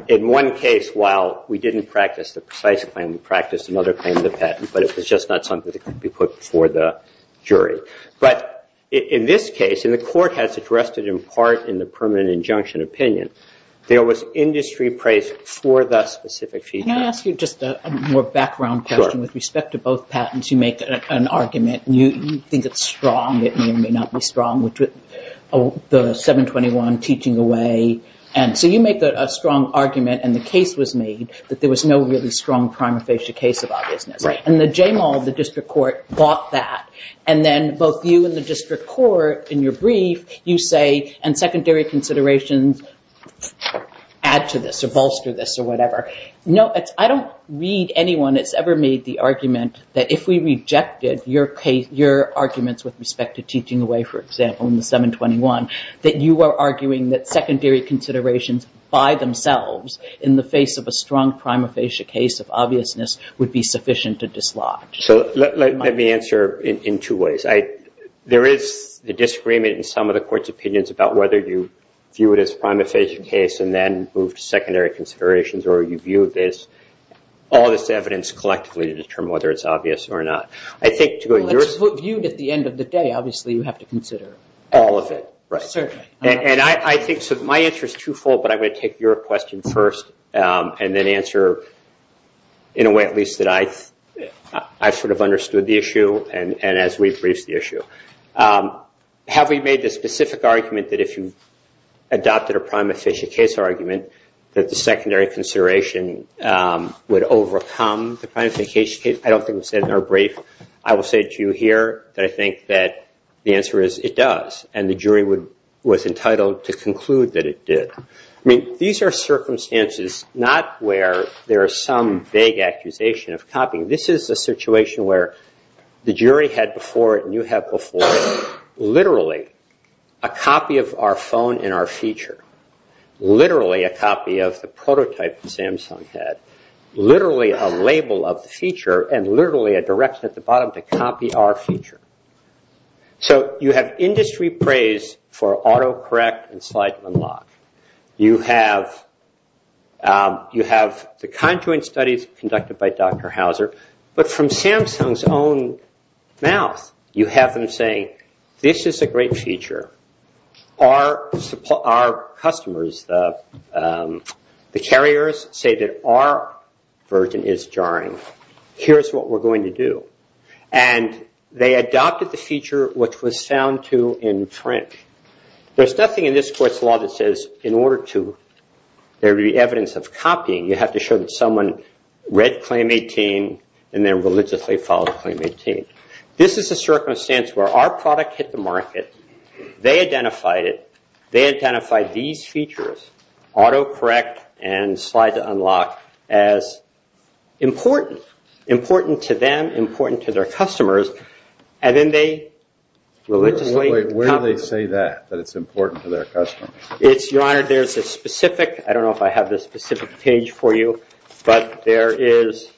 in one case, while we didn't practice the precise claim, we practiced another claim of the patent, but it was just not something that could be put before the jury. But in this case, and the court has addressed it in part in the permanent injunction opinion, there was industry praise for the specific feature. Can I ask you just a more background question? Sure. With respect to both patents, you make an argument. You think it's strong. It may or may not be strong, which was the 721 teaching away. And so you make a strong argument, and the case was made, that there was no really strong prima facie case about it. Right. And the JMAL, the district court, bought that. And then both you and the district court, in your brief, you say, and secondary considerations add to this or bolster this or whatever. No, I don't read anyone that's ever made the argument that if we rejected your case, your arguments with respect to teaching away, for example, in the 721, that you are arguing that secondary considerations by themselves, in the face of a strong prima facie case of obviousness, would be sufficient to dislodge. So let me answer in two ways. There is a disagreement in some of the court's opinions about whether you view it as a prima facie case and then move to secondary considerations or you view it as all this evidence collectively to determine whether it's obvious or not. Viewed at the end of the day, obviously, you have to consider all of it. Right. And I think my answer is twofold, but I'm going to take your question first and then answer in a way at least that I sort of understood the issue and as we've raised the issue. Have we made the specific argument that if you adopted a prima facie case argument that the secondary consideration would overcome the prima facie case? I don't think we said in our brief. I will say to you here that I think that the answer is it does, and the jury was entitled to conclude that it did. I mean, these are circumstances not where there is some vague accusation of copying. This is the situation where the jury had before it and you had before it literally a copy of our phone and our feature, literally a copy of the prototype that Samsung had, literally a label of the feature, and literally a direction at the bottom to copy our feature. So you have industry praise for autocorrect and slide unlock. You have the kind of studies conducted by Dr. Houser, but from Samsung's own mouth you have them saying this is a great feature. Our customers, the carriers say that our version is jarring. Here's what we're going to do. And they adopted the feature which was sound to in print. There's nothing in this court's law that says in order to there be evidence of copying, you have to show that someone read Claim 18 and then religiously followed Claim 18. This is a circumstance where our product hit the market. They identified it. They identified these features, autocorrect and slide unlock, as important, important to them, important to their customers, and then they religiously copied it. Wait, where do they say that, that it's important to their customers? Your Honor, there's a specific, I don't know if I have this specific page for you, but there is,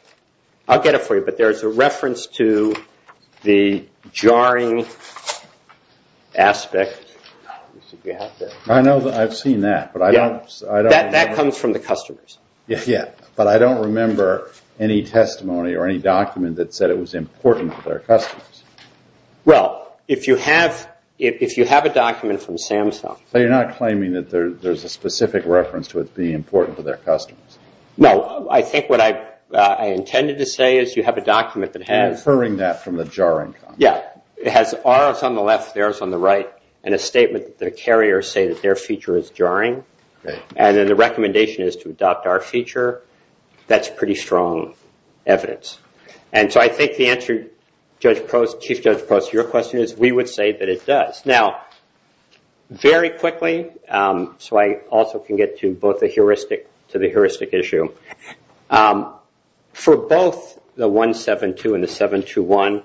I'll get it for you, but there's a reference to the jarring aspect. I know that. I've seen that. That comes from the customers. Yeah, but I don't remember any testimony or any document that said it was important to their customers. Well, if you have a document from Samsung. But you're not claiming that there's a specific reference to it being important to their customers. No, I think what I intended to say is you have a document that has… You're inferring that from the jarring. Yeah, it has ours on the left, theirs on the right, and a statement that the carriers say that their feature is jarring. And then the recommendation is to adopt our feature. That's pretty strong evidence. And so I think the answer, Chief Judge Post, to your question is we would say that it does. Now, very quickly, so I also can get to both the heuristic, to the heuristic issue. For both the 172 and the 721,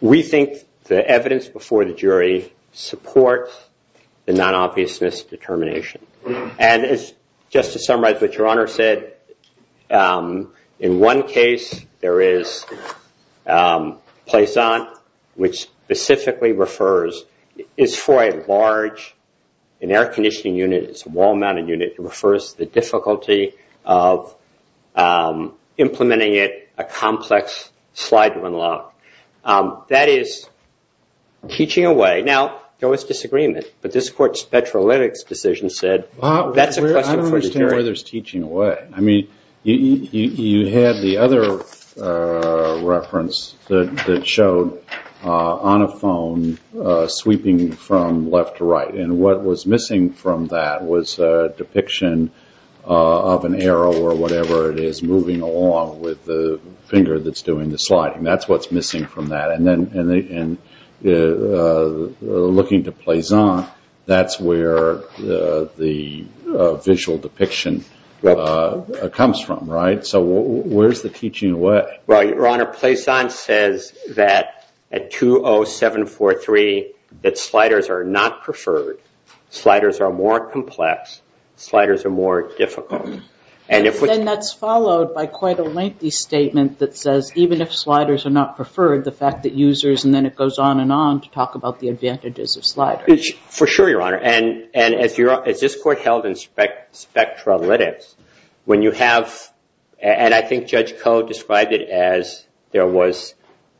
we think the evidence before the jury supports the non-obviousness determination. And just to summarize what your Honor said, in one case there is placent, which specifically refers… It's for a large, an air conditioning unit, it's a wall-mounted unit. It refers to the difficulty of implementing it, a complex slide on the left. That is teaching away. Right now, there was disagreement, but this court's spetrolytics decision said… I don't understand why there's teaching away. I mean, you had the other reference that showed, on a phone, sweeping from left to right. And what was missing from that was a depiction of an arrow or whatever it is moving along with the finger that's doing the sliding. That's what's missing from that. And looking to placent, that's where the visual depiction comes from, right? So where's the teaching away? Right, Your Honor. Placent says that at 20743, that sliders are not preferred. Sliders are more complex. Sliders are more difficult. And that's followed by quite a lengthy statement that says, even if sliders are not preferred, the fact that users… And then it goes on and on to talk about the advantages of sliders. For sure, Your Honor. And if this court held in spectrolytics, when you have… And I think Judge Koh described it as there was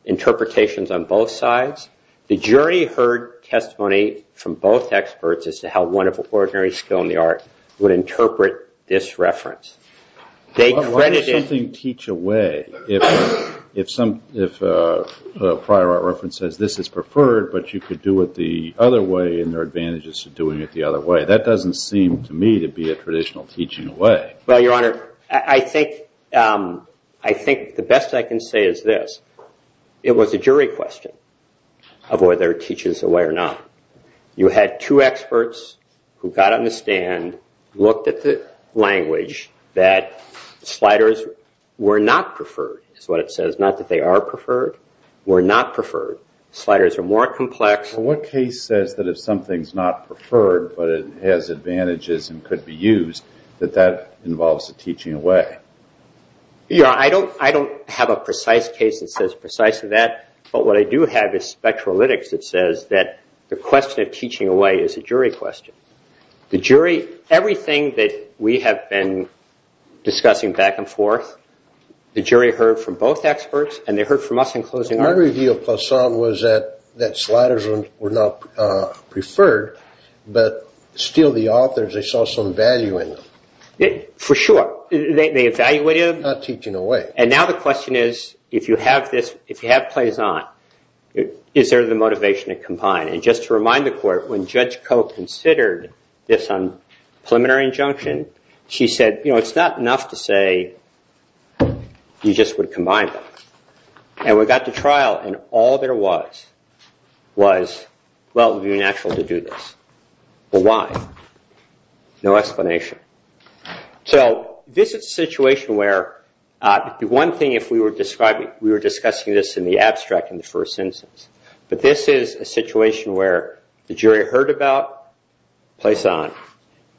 interpretations on both sides. The jury heard testimony from both experts as to how one of the ordinary skill in the art would interpret this reference. Why does something teach away if a prior art reference says this is preferred, but you could do it the other way and there are advantages to doing it the other way? That doesn't seem to me to be a traditional teaching away. Well, Your Honor, I think the best I can say is this. It was a jury question of whether it teaches away or not. You had two experts who got on the stand, looked at the language, that sliders were not preferred is what it says. Not that they are preferred. Were not preferred. Sliders are more complex. What case says that if something is not preferred, but it has advantages and could be used, that that involves a teaching away? Your Honor, I don't have a precise case that says precisely that. But what I do have is spectrolytics that says that the question of teaching away is a jury question. The jury, everything that we have been discussing back and forth, the jury heard from both experts and they heard from us in closing argument. My review of Poisson was that sliders were not preferred, but still the authors, they saw some value in them. For sure. They evaluated them. Not teaching away. Now the question is, if you have Poisson, is there the motivation to combine? Just to remind the court, when Judge Coe considered this preliminary injunction, she said it's not enough to say you just would combine them. We got to trial and all there was was, well, it would be natural to do this. But why? No explanation. This is a situation where the one thing, if we were discussing this in the abstract in the first instance, but this is a situation where the jury heard about Poisson.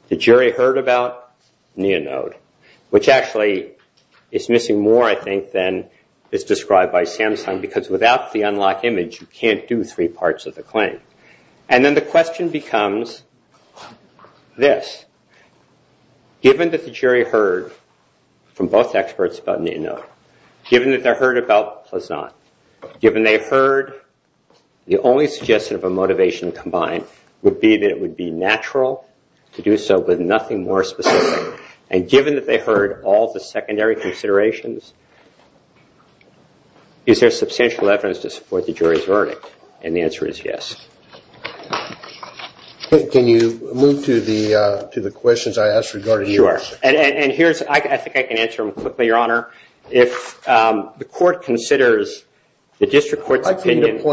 The jury heard about Neonode, which actually is missing more, I think, than is described by Samson because without the unlocked image, you can't do three parts of the claim. Then the question becomes this. Given that the jury heard from both experts about Neonode, given that they heard about Poisson, given they heard, the only suggestion of a motivation to combine would be that it would be natural to do so but nothing more specific, and given that they heard all the secondary And the answer is yes. Can you move to the questions I asked regarding your answer? Sure. I think I can answer them quickly, Your Honor. If the court considers the district court opinion I'd like to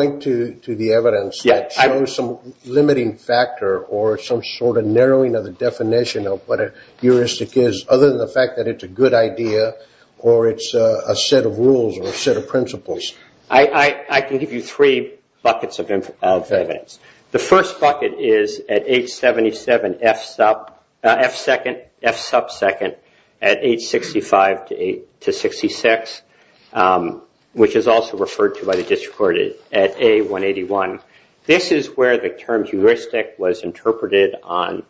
point to the evidence that shows some limiting factor or some sort of narrowing of the definition of what a heuristic is other than the fact that it's a good idea or it's a set of rules or a set of principles. I can give you three buckets of evidence. The first bucket is at H77F2 at H65-66, which is also referred to by the district court at A181. This is where the term heuristic was interpreted on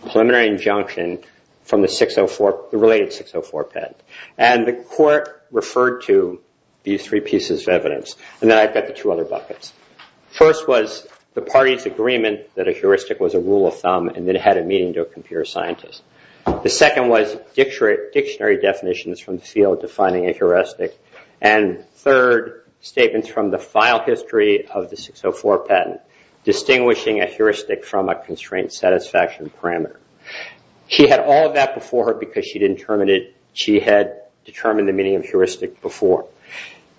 preliminary injunction from the related 604 patent. And the court referred to these three pieces of evidence. And then I've got the two other buckets. First was the party's agreement that a heuristic was a rule of thumb and that it had a meaning to a computer scientist. The second was dictionary definitions from the field defining a heuristic. And third, statements from the file history of the 604 patent distinguishing a heuristic from a constraint satisfaction parameter. She had all of that before her because she didn't terminate it. She had determined the meaning of heuristic before.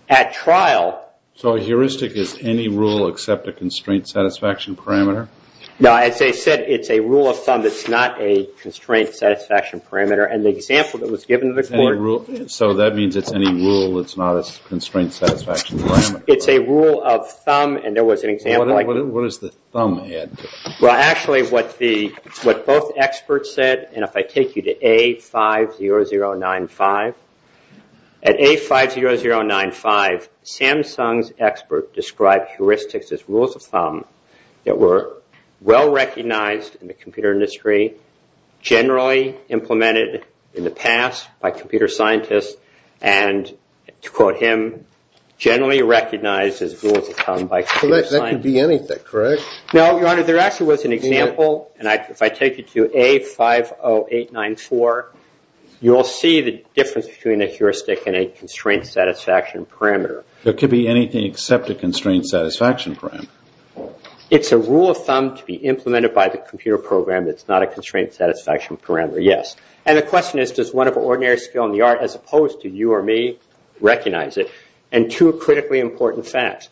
At trial... So a heuristic is any rule except a constraint satisfaction parameter? No, as I said, it's a rule of thumb. It's not a constraint satisfaction parameter. And the example that was given to the court... So that means it's any rule that's not a constraint satisfaction parameter. It's a rule of thumb, and there was an example... What does the thumb add to it? Well, actually, what both experts said... And if I take you to A50095... At A50095, Samsung's expert described heuristics as rules of thumb that were well recognized in the computer industry, generally implemented in the past by computer scientists, and, to quote him, generally recognized as rules of thumb by computer scientists. That could be anything, correct? No, Your Honor, there actually was an example, and if I take you to A50894, you will see the difference between a heuristic and a constraint satisfaction parameter. It could be anything except a constraint satisfaction parameter. It's a rule of thumb to be implemented by the computer program. It's not a constraint satisfaction parameter, yes. And the question is, does one of ordinary skill in the art, as opposed to you or me, recognize it? And two critically important facts.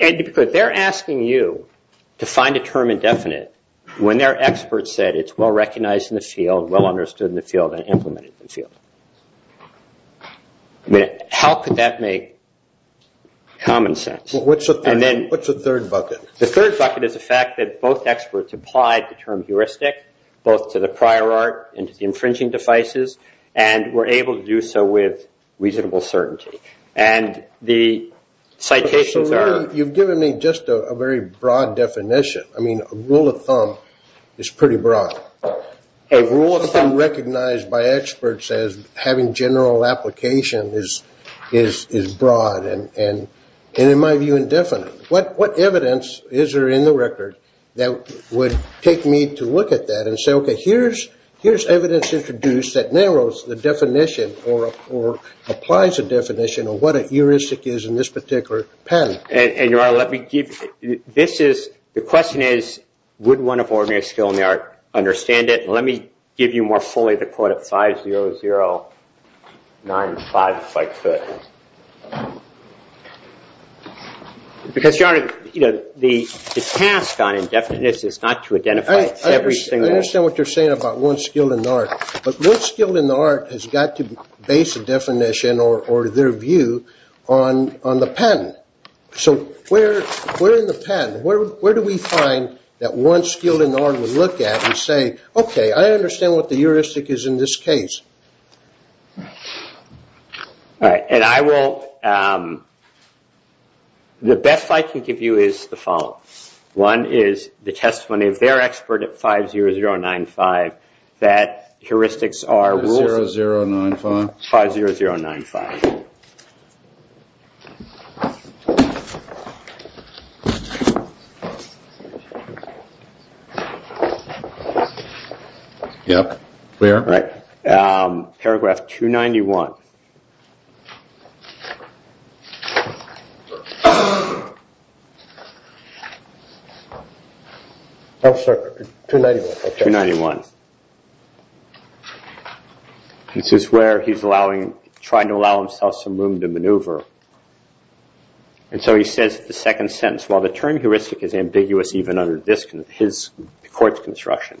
They're asking you to find a term indefinite when their expert said it's well recognized in the field, well understood in the field, and implemented in the field. How could that make common sense? What's the third bucket? The third bucket is the fact that both experts applied the term heuristic, both to the prior art and to the infringing devices, and were able to do so with reasonable certainty. And the citation term... You've given me just a very broad definition. I mean, a rule of thumb is pretty broad. A rule of thumb recognized by experts as having general application is broad, and in my view, indefinite. What evidence is there in the record that would take me to look at that and say, okay, here's evidence introduced that narrows the definition or applies a definition of what a heuristic is in this particular pattern? And your Honor, let me give you... The question is, would one of ordinary skill in the art understand it? Let me give you more fully the quote of 50095 by Foote. Because, Your Honor, the task on indefinite is not to identify every single... I understand what you're saying about one skill in the art, but what skill in the art has got to base a definition or their view on the pattern? So, where in the pattern? Where do we find that one skill in the art would look at and say, okay, I understand what the heuristic is in this case. The best I can give you is the following. One is the testimony of their expert at 50095 that heuristics are... 50095? 50095. Yeah, clear. Right. Paragraph 291. Paragraph 291. Paragraph 291. This is where he's allowing... trying to allow himself some room to maneuver. And so he says the second sentence, while the term heuristic is ambiguous even under this court's construction,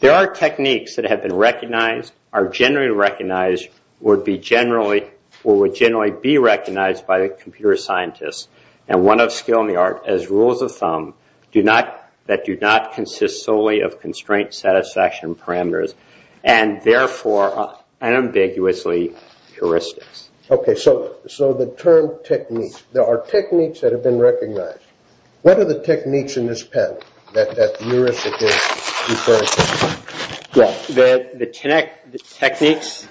there are techniques that have been recognized, are generally recognized, which would be generally... or would generally be recognized by a computer scientist, and one of skill in the art as rules of thumb that do not consist solely of constraint satisfaction parameters and therefore are unambiguously heuristics. Okay, so the term techniques. There are techniques that have been recognized. What are the techniques in this pattern that heuristic is referring to? Well, the techniques,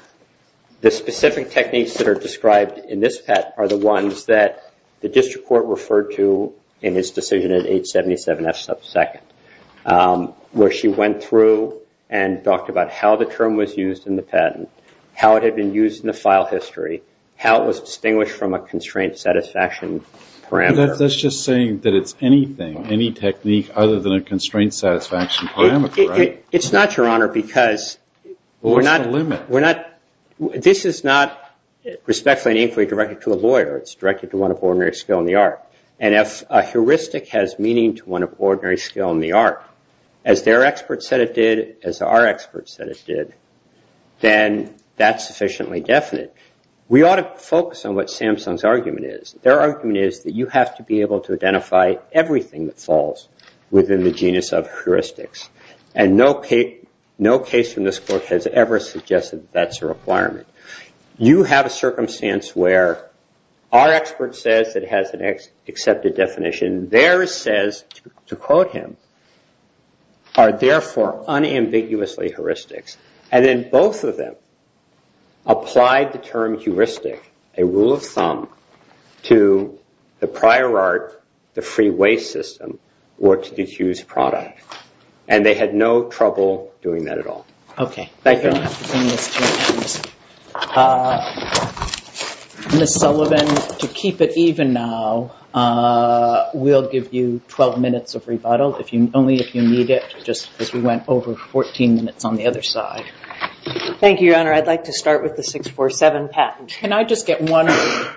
the specific techniques that are described in this pattern are the ones that the district court referred to in his decision at 877F sub 2nd, where she went through and talked about how the term was used in the patent, how it had been used in the file history, how it was distinguished from a constraint satisfaction parameter. That's just saying that it's anything, any technique, other than a constraint satisfaction parameter, right? It's not, Your Honor, because we're not... This is not respectfully an inquiry directed to a lawyer. It's directed to one of ordinary skill in the art. And if a heuristic has meaning to one of ordinary skill in the art, as their experts said it did, as our experts said it did, then that's sufficiently definite. We ought to focus on what Samsung's argument is. Their argument is that you have to be able to identify everything that falls within the genus of heuristics. And no case in this court has ever suggested that that's a requirement. You have a circumstance where our expert says that it has an accepted definition. Theirs says, to quote him, are therefore unambiguously heuristics. And then both of them applied the term heuristic, a rule of thumb, to the prior art, the freeway system, or its disused product. And they had no trouble doing that at all. Okay. Thank you. Ms. Sullivan, to keep it even now, we'll give you 12 minutes of rebuttal, only if you need it, just as we went over 14 minutes on the other side. Thank you, Your Honor. I'd like to start with the 647 patent. Can I just get one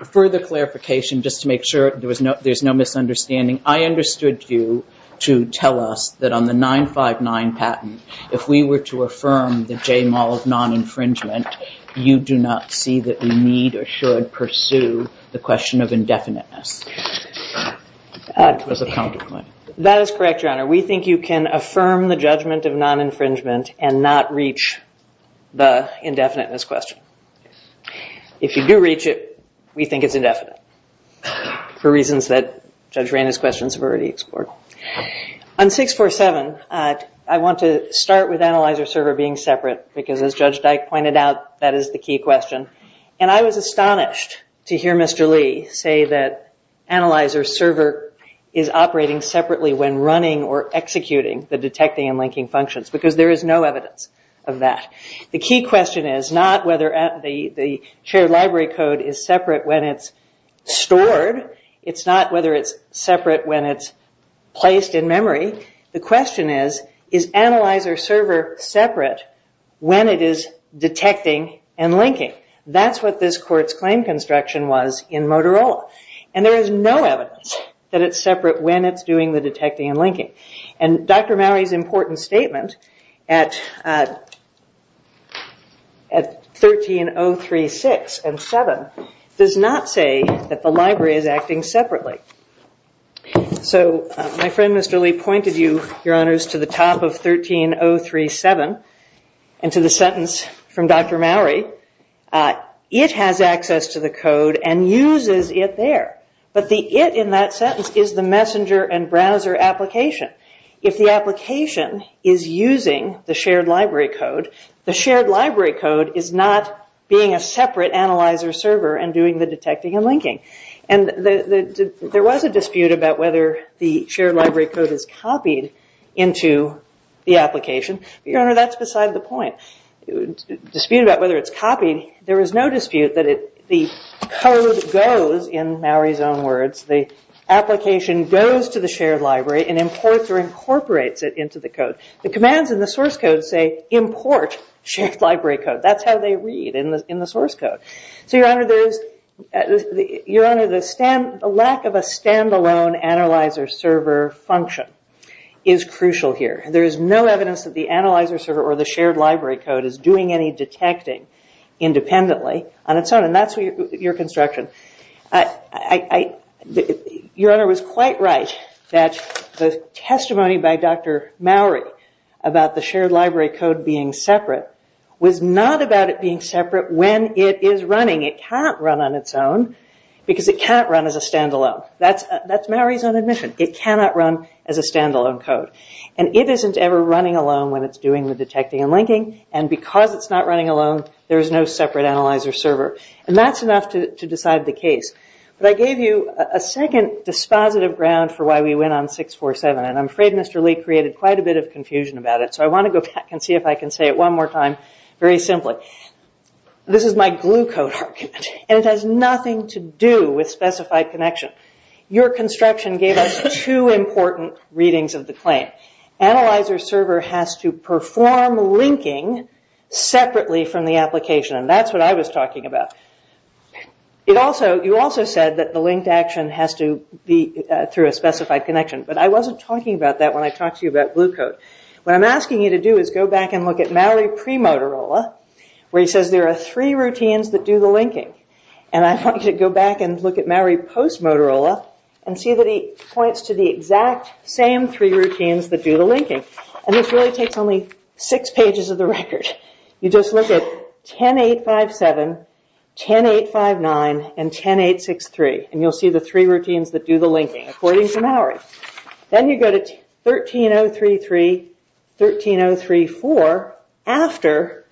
further clarification, just to make sure there's no misunderstanding? I understood you to tell us that on the 959 patent, if we were to affirm the J. Mulls non-infringement, you do not see that we need or should pursue the question of indefiniteness. That is correct, Your Honor. We think you can affirm the judgment of non-infringement and not reach the indefiniteness question. If you do reach it, we think it's indefinite, for reasons that Judge Randy's questions have already explored. On 647, I want to start with analyzer server being separate, because as Judge Dyke pointed out, that is the key question. And I was astonished to hear Mr. Lee say that analyzer server is operating separately when running or executing the detecting and linking functions, because there is no evidence of that. The key question is not whether the shared library code is separate when it's stored. It's not whether it's separate when it's placed in memory. The question is, is analyzer server separate when it is detecting and linking? That's what this court's claim construction was in Motorola. And there is no evidence that it's separate when it's doing the detecting and linking. And Dr. Mowrey's important statement at 13036 and 1307 does not say that the library is acting separately. So my friend, Mr. Lee, pointed you, Your Honors, to the top of 13037 and to the sentence from Dr. Mowrey, it has access to the code and uses it there. But the it in that sentence is the messenger and browser application. If the application is using the shared library code, the shared library code is not being a separate analyzer server and doing the detecting and linking. And there was a dispute about whether the shared library code is copied into the application. Your Honor, that's beside the point. The dispute about whether it's copied, there was no dispute that the code goes in Mowrey's own words, the application goes to the shared library and imports or incorporates it into the code. The commands in the source code say import shared library code. That's how they read in the source code. Your Honor, the lack of a stand-alone analyzer server function is crucial here. There is no evidence that the analyzer server or the shared library code is doing any detecting independently on its own. And that's your construction. Your Honor was quite right that the testimony by Dr. Mowrey about the shared library code being separate was not about it being separate when it is running. It can't run on its own because it can't run as a stand-alone. That's Mowrey's own admission. It cannot run as a stand-alone code. And because it's not running alone, there's no separate analyzer server. And that's enough to decide the case. But I gave you a second dispositive ground for why we went on 647. And I'm afraid Mr. Lee created quite a bit of confusion about it. So I want to go back and see if I can say it one more time very simply. This is my glue code argument. And it has nothing to do with specified connection. Your construction gave us two important readings of the claim. Analyzer server has to perform linking separately from the application. And that's what I was talking about. You also said that the linked action has to be through a specified connection. But I wasn't talking about that when I talked to you about glue code. What I'm asking you to do is go back and look at Mowrey pre-Motorola where he says there are three routines that do the linking. And I want you to go back and look at Mowrey post-Motorola and see that he points to the exact same three routines that do the linking. And this really takes only six pages of the record. You just look at 10.857, 10.859, and 10.863. And you'll see the three routines that do the linking according to Mowrey. Then you go to 13.033, 13.034 after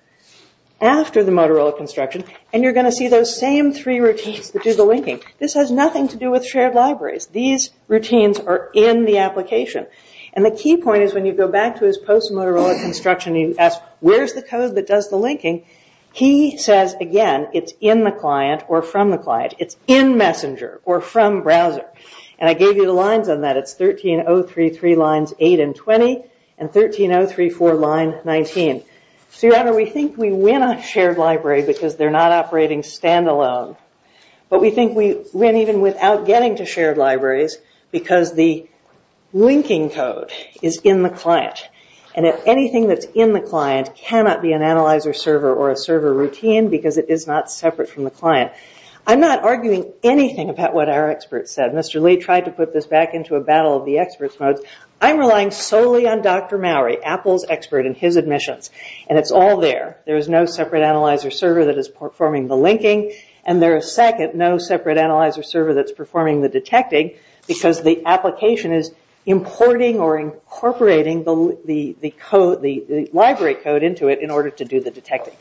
the Motorola construction. And you're going to see those same three routines that do the linking. This has nothing to do with shared libraries. These routines are in the application. And the key point is when you go back to his post-Motorola construction and you ask where's the code that does the linking, he says, again, it's in the client or from the client. It's in Messenger or from browser. And I gave you the lines on that. It's 13.033 lines 8 and 20 and 13.034 lines 19. So, Your Honor, we think we win on shared library because they're not operating standalone. But we think we win even without getting to shared libraries because the linking code is in the client. And if anything that's in the client cannot be an analyzer server or a server routine because it is not separate from the client. I'm not arguing anything about what our expert said. Mr. Lee tried to put this back into a battle of the experts mode. I'm relying solely on Dr. Mowrey, Apple's expert in his admissions. And it's all there. There's no separate analyzer server that is performing the linking. And there is, second, no separate analyzer server that's performing the detecting because the application is importing or incorporating the library code into it in order to do the detecting.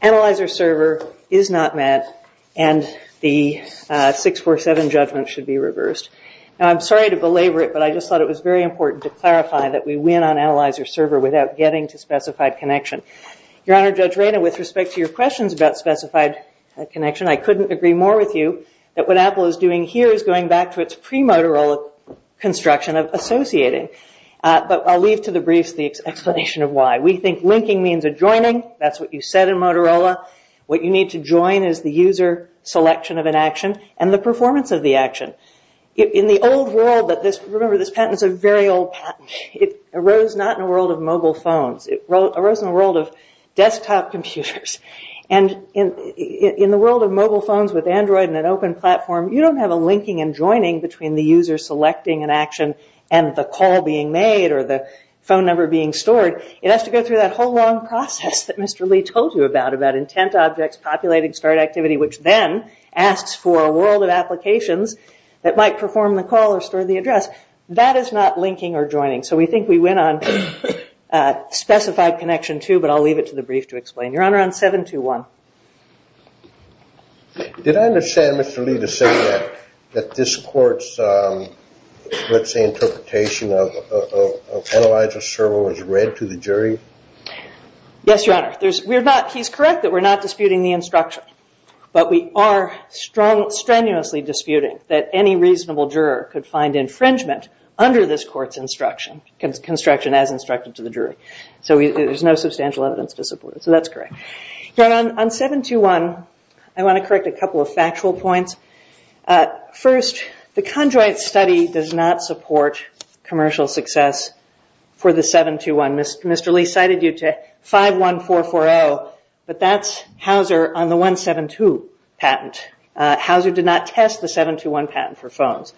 Analyzer server is not met and the 647 judgment should be reversed. Now, I'm sorry to belabor it, but I just thought it was very important to clarify that we win on analyzer server without getting to specified connection. Your Honor, Judge Reina, with respect to your questions about specified connection, I couldn't agree more with you that what Apple is doing here is going back to its pre-Motorola construction of associating. But I'll leave to the brief the explanation of why. We think linking means adjoining. That's what you said in Motorola. What you need to join is the user selection of an action and the performance of the action. In the old world, remember this patent is a very old patent. It arose not in a world of mobile phones. It arose in a world of desktop computers. In the world of mobile phones with Android and an open platform, you don't have a linking and joining between the user selecting an action and the call being made or the phone number being stored. It has to go through that whole long process that Mr. Lee told you about, about intent objects, populated start activity, which then asks for a world of applications that might perform the call or store the address. That is not linking or joining. So we think we went on specified connection, too, but I'll leave it to the brief to explain. Your Honor, I'm 721. Did I understand Mr. Lee to say that this court's, let's say, interpretation of penalizer's sermon was read to the jury? Yes, Your Honor. He's correct that we're not disputing the instruction, but we are strenuously disputing that any reasonable juror could find infringement under this court's instruction, construction as instructed to the jury. So there's no substantial evidence to support it. So that's correct. Your Honor, on 721, I want to correct a couple of factual points. First, the conjoint study does not support commercial success for the 721. Mr. Lee cited you to 51440, but that's Hauser on the 172 patent. Hauser did not test the 721 patent for phones.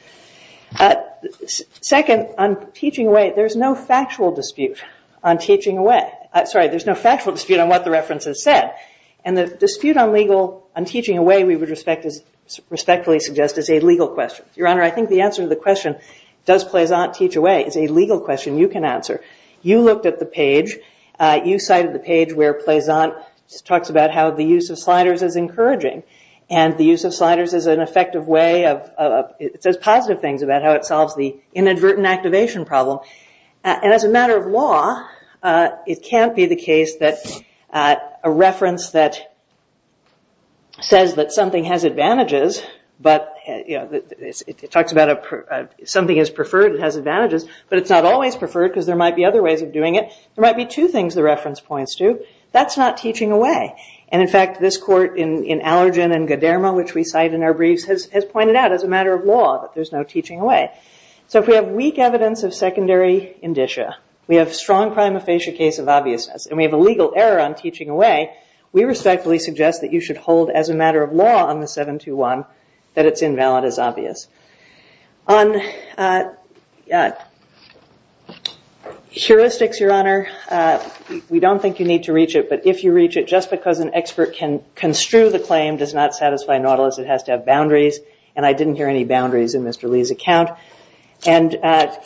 Second, on teaching away, there's no factual dispute on teaching away. Sorry, there's no factual dispute on what the reference has said. And the dispute on teaching away, we would respectfully suggest, is a legal question. Your Honor, I think the answer to the question, does Plaisant teach away, is a legal question you can answer. You looked at the page, you cited the page where Plaisant talks about how the use of sliders is encouraging, and the use of sliders is an effective way of, it says positive things about how it solves the inadvertent activation problem. And as a matter of law, it can't be the case that a reference that says that something has advantages, but, you know, it talks about something is preferred and has advantages, but it's not always preferred because there might be other ways of doing it. There might be two things the reference points to. That's not teaching away. And, in fact, this court in Allergen and Goderma, which we cite in our briefs, has pointed out, as a matter of law, that there's no teaching away. So if we have weak evidence of secondary indicia, we have strong prima facie case of obviousness, and we have a legal error on teaching away, we respectfully suggest that you should hold, as a matter of law, on the 721, that it's invalid as obvious. On heuristics, Your Honor, we don't think you need to reach it, but if you reach it just because an expert can construe the claim does not satisfy Nautilus. It has to have boundaries. And I didn't hear any boundaries in Mr. Lee's account. And I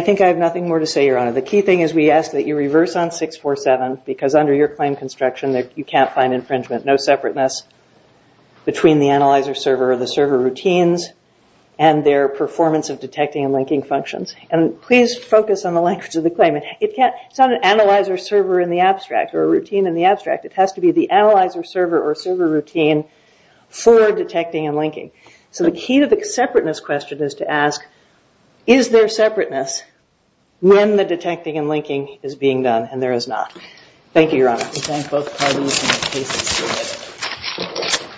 think I have nothing more to say, Your Honor. The key thing is we ask that you reverse on 647 because under your claim construction, you can't find infringement. No separateness between the analyzer server or the server routines and their performance of detecting and linking functions. And please focus on the language of the claim. It's not an analyzer server in the abstract or a routine in the abstract. It has to be the analyzer server or server routine for detecting and linking. So the key to the separateness question is to ask, is there separateness when the detecting and linking is being done? And there is not. Thank you, Your Honor. Thank you.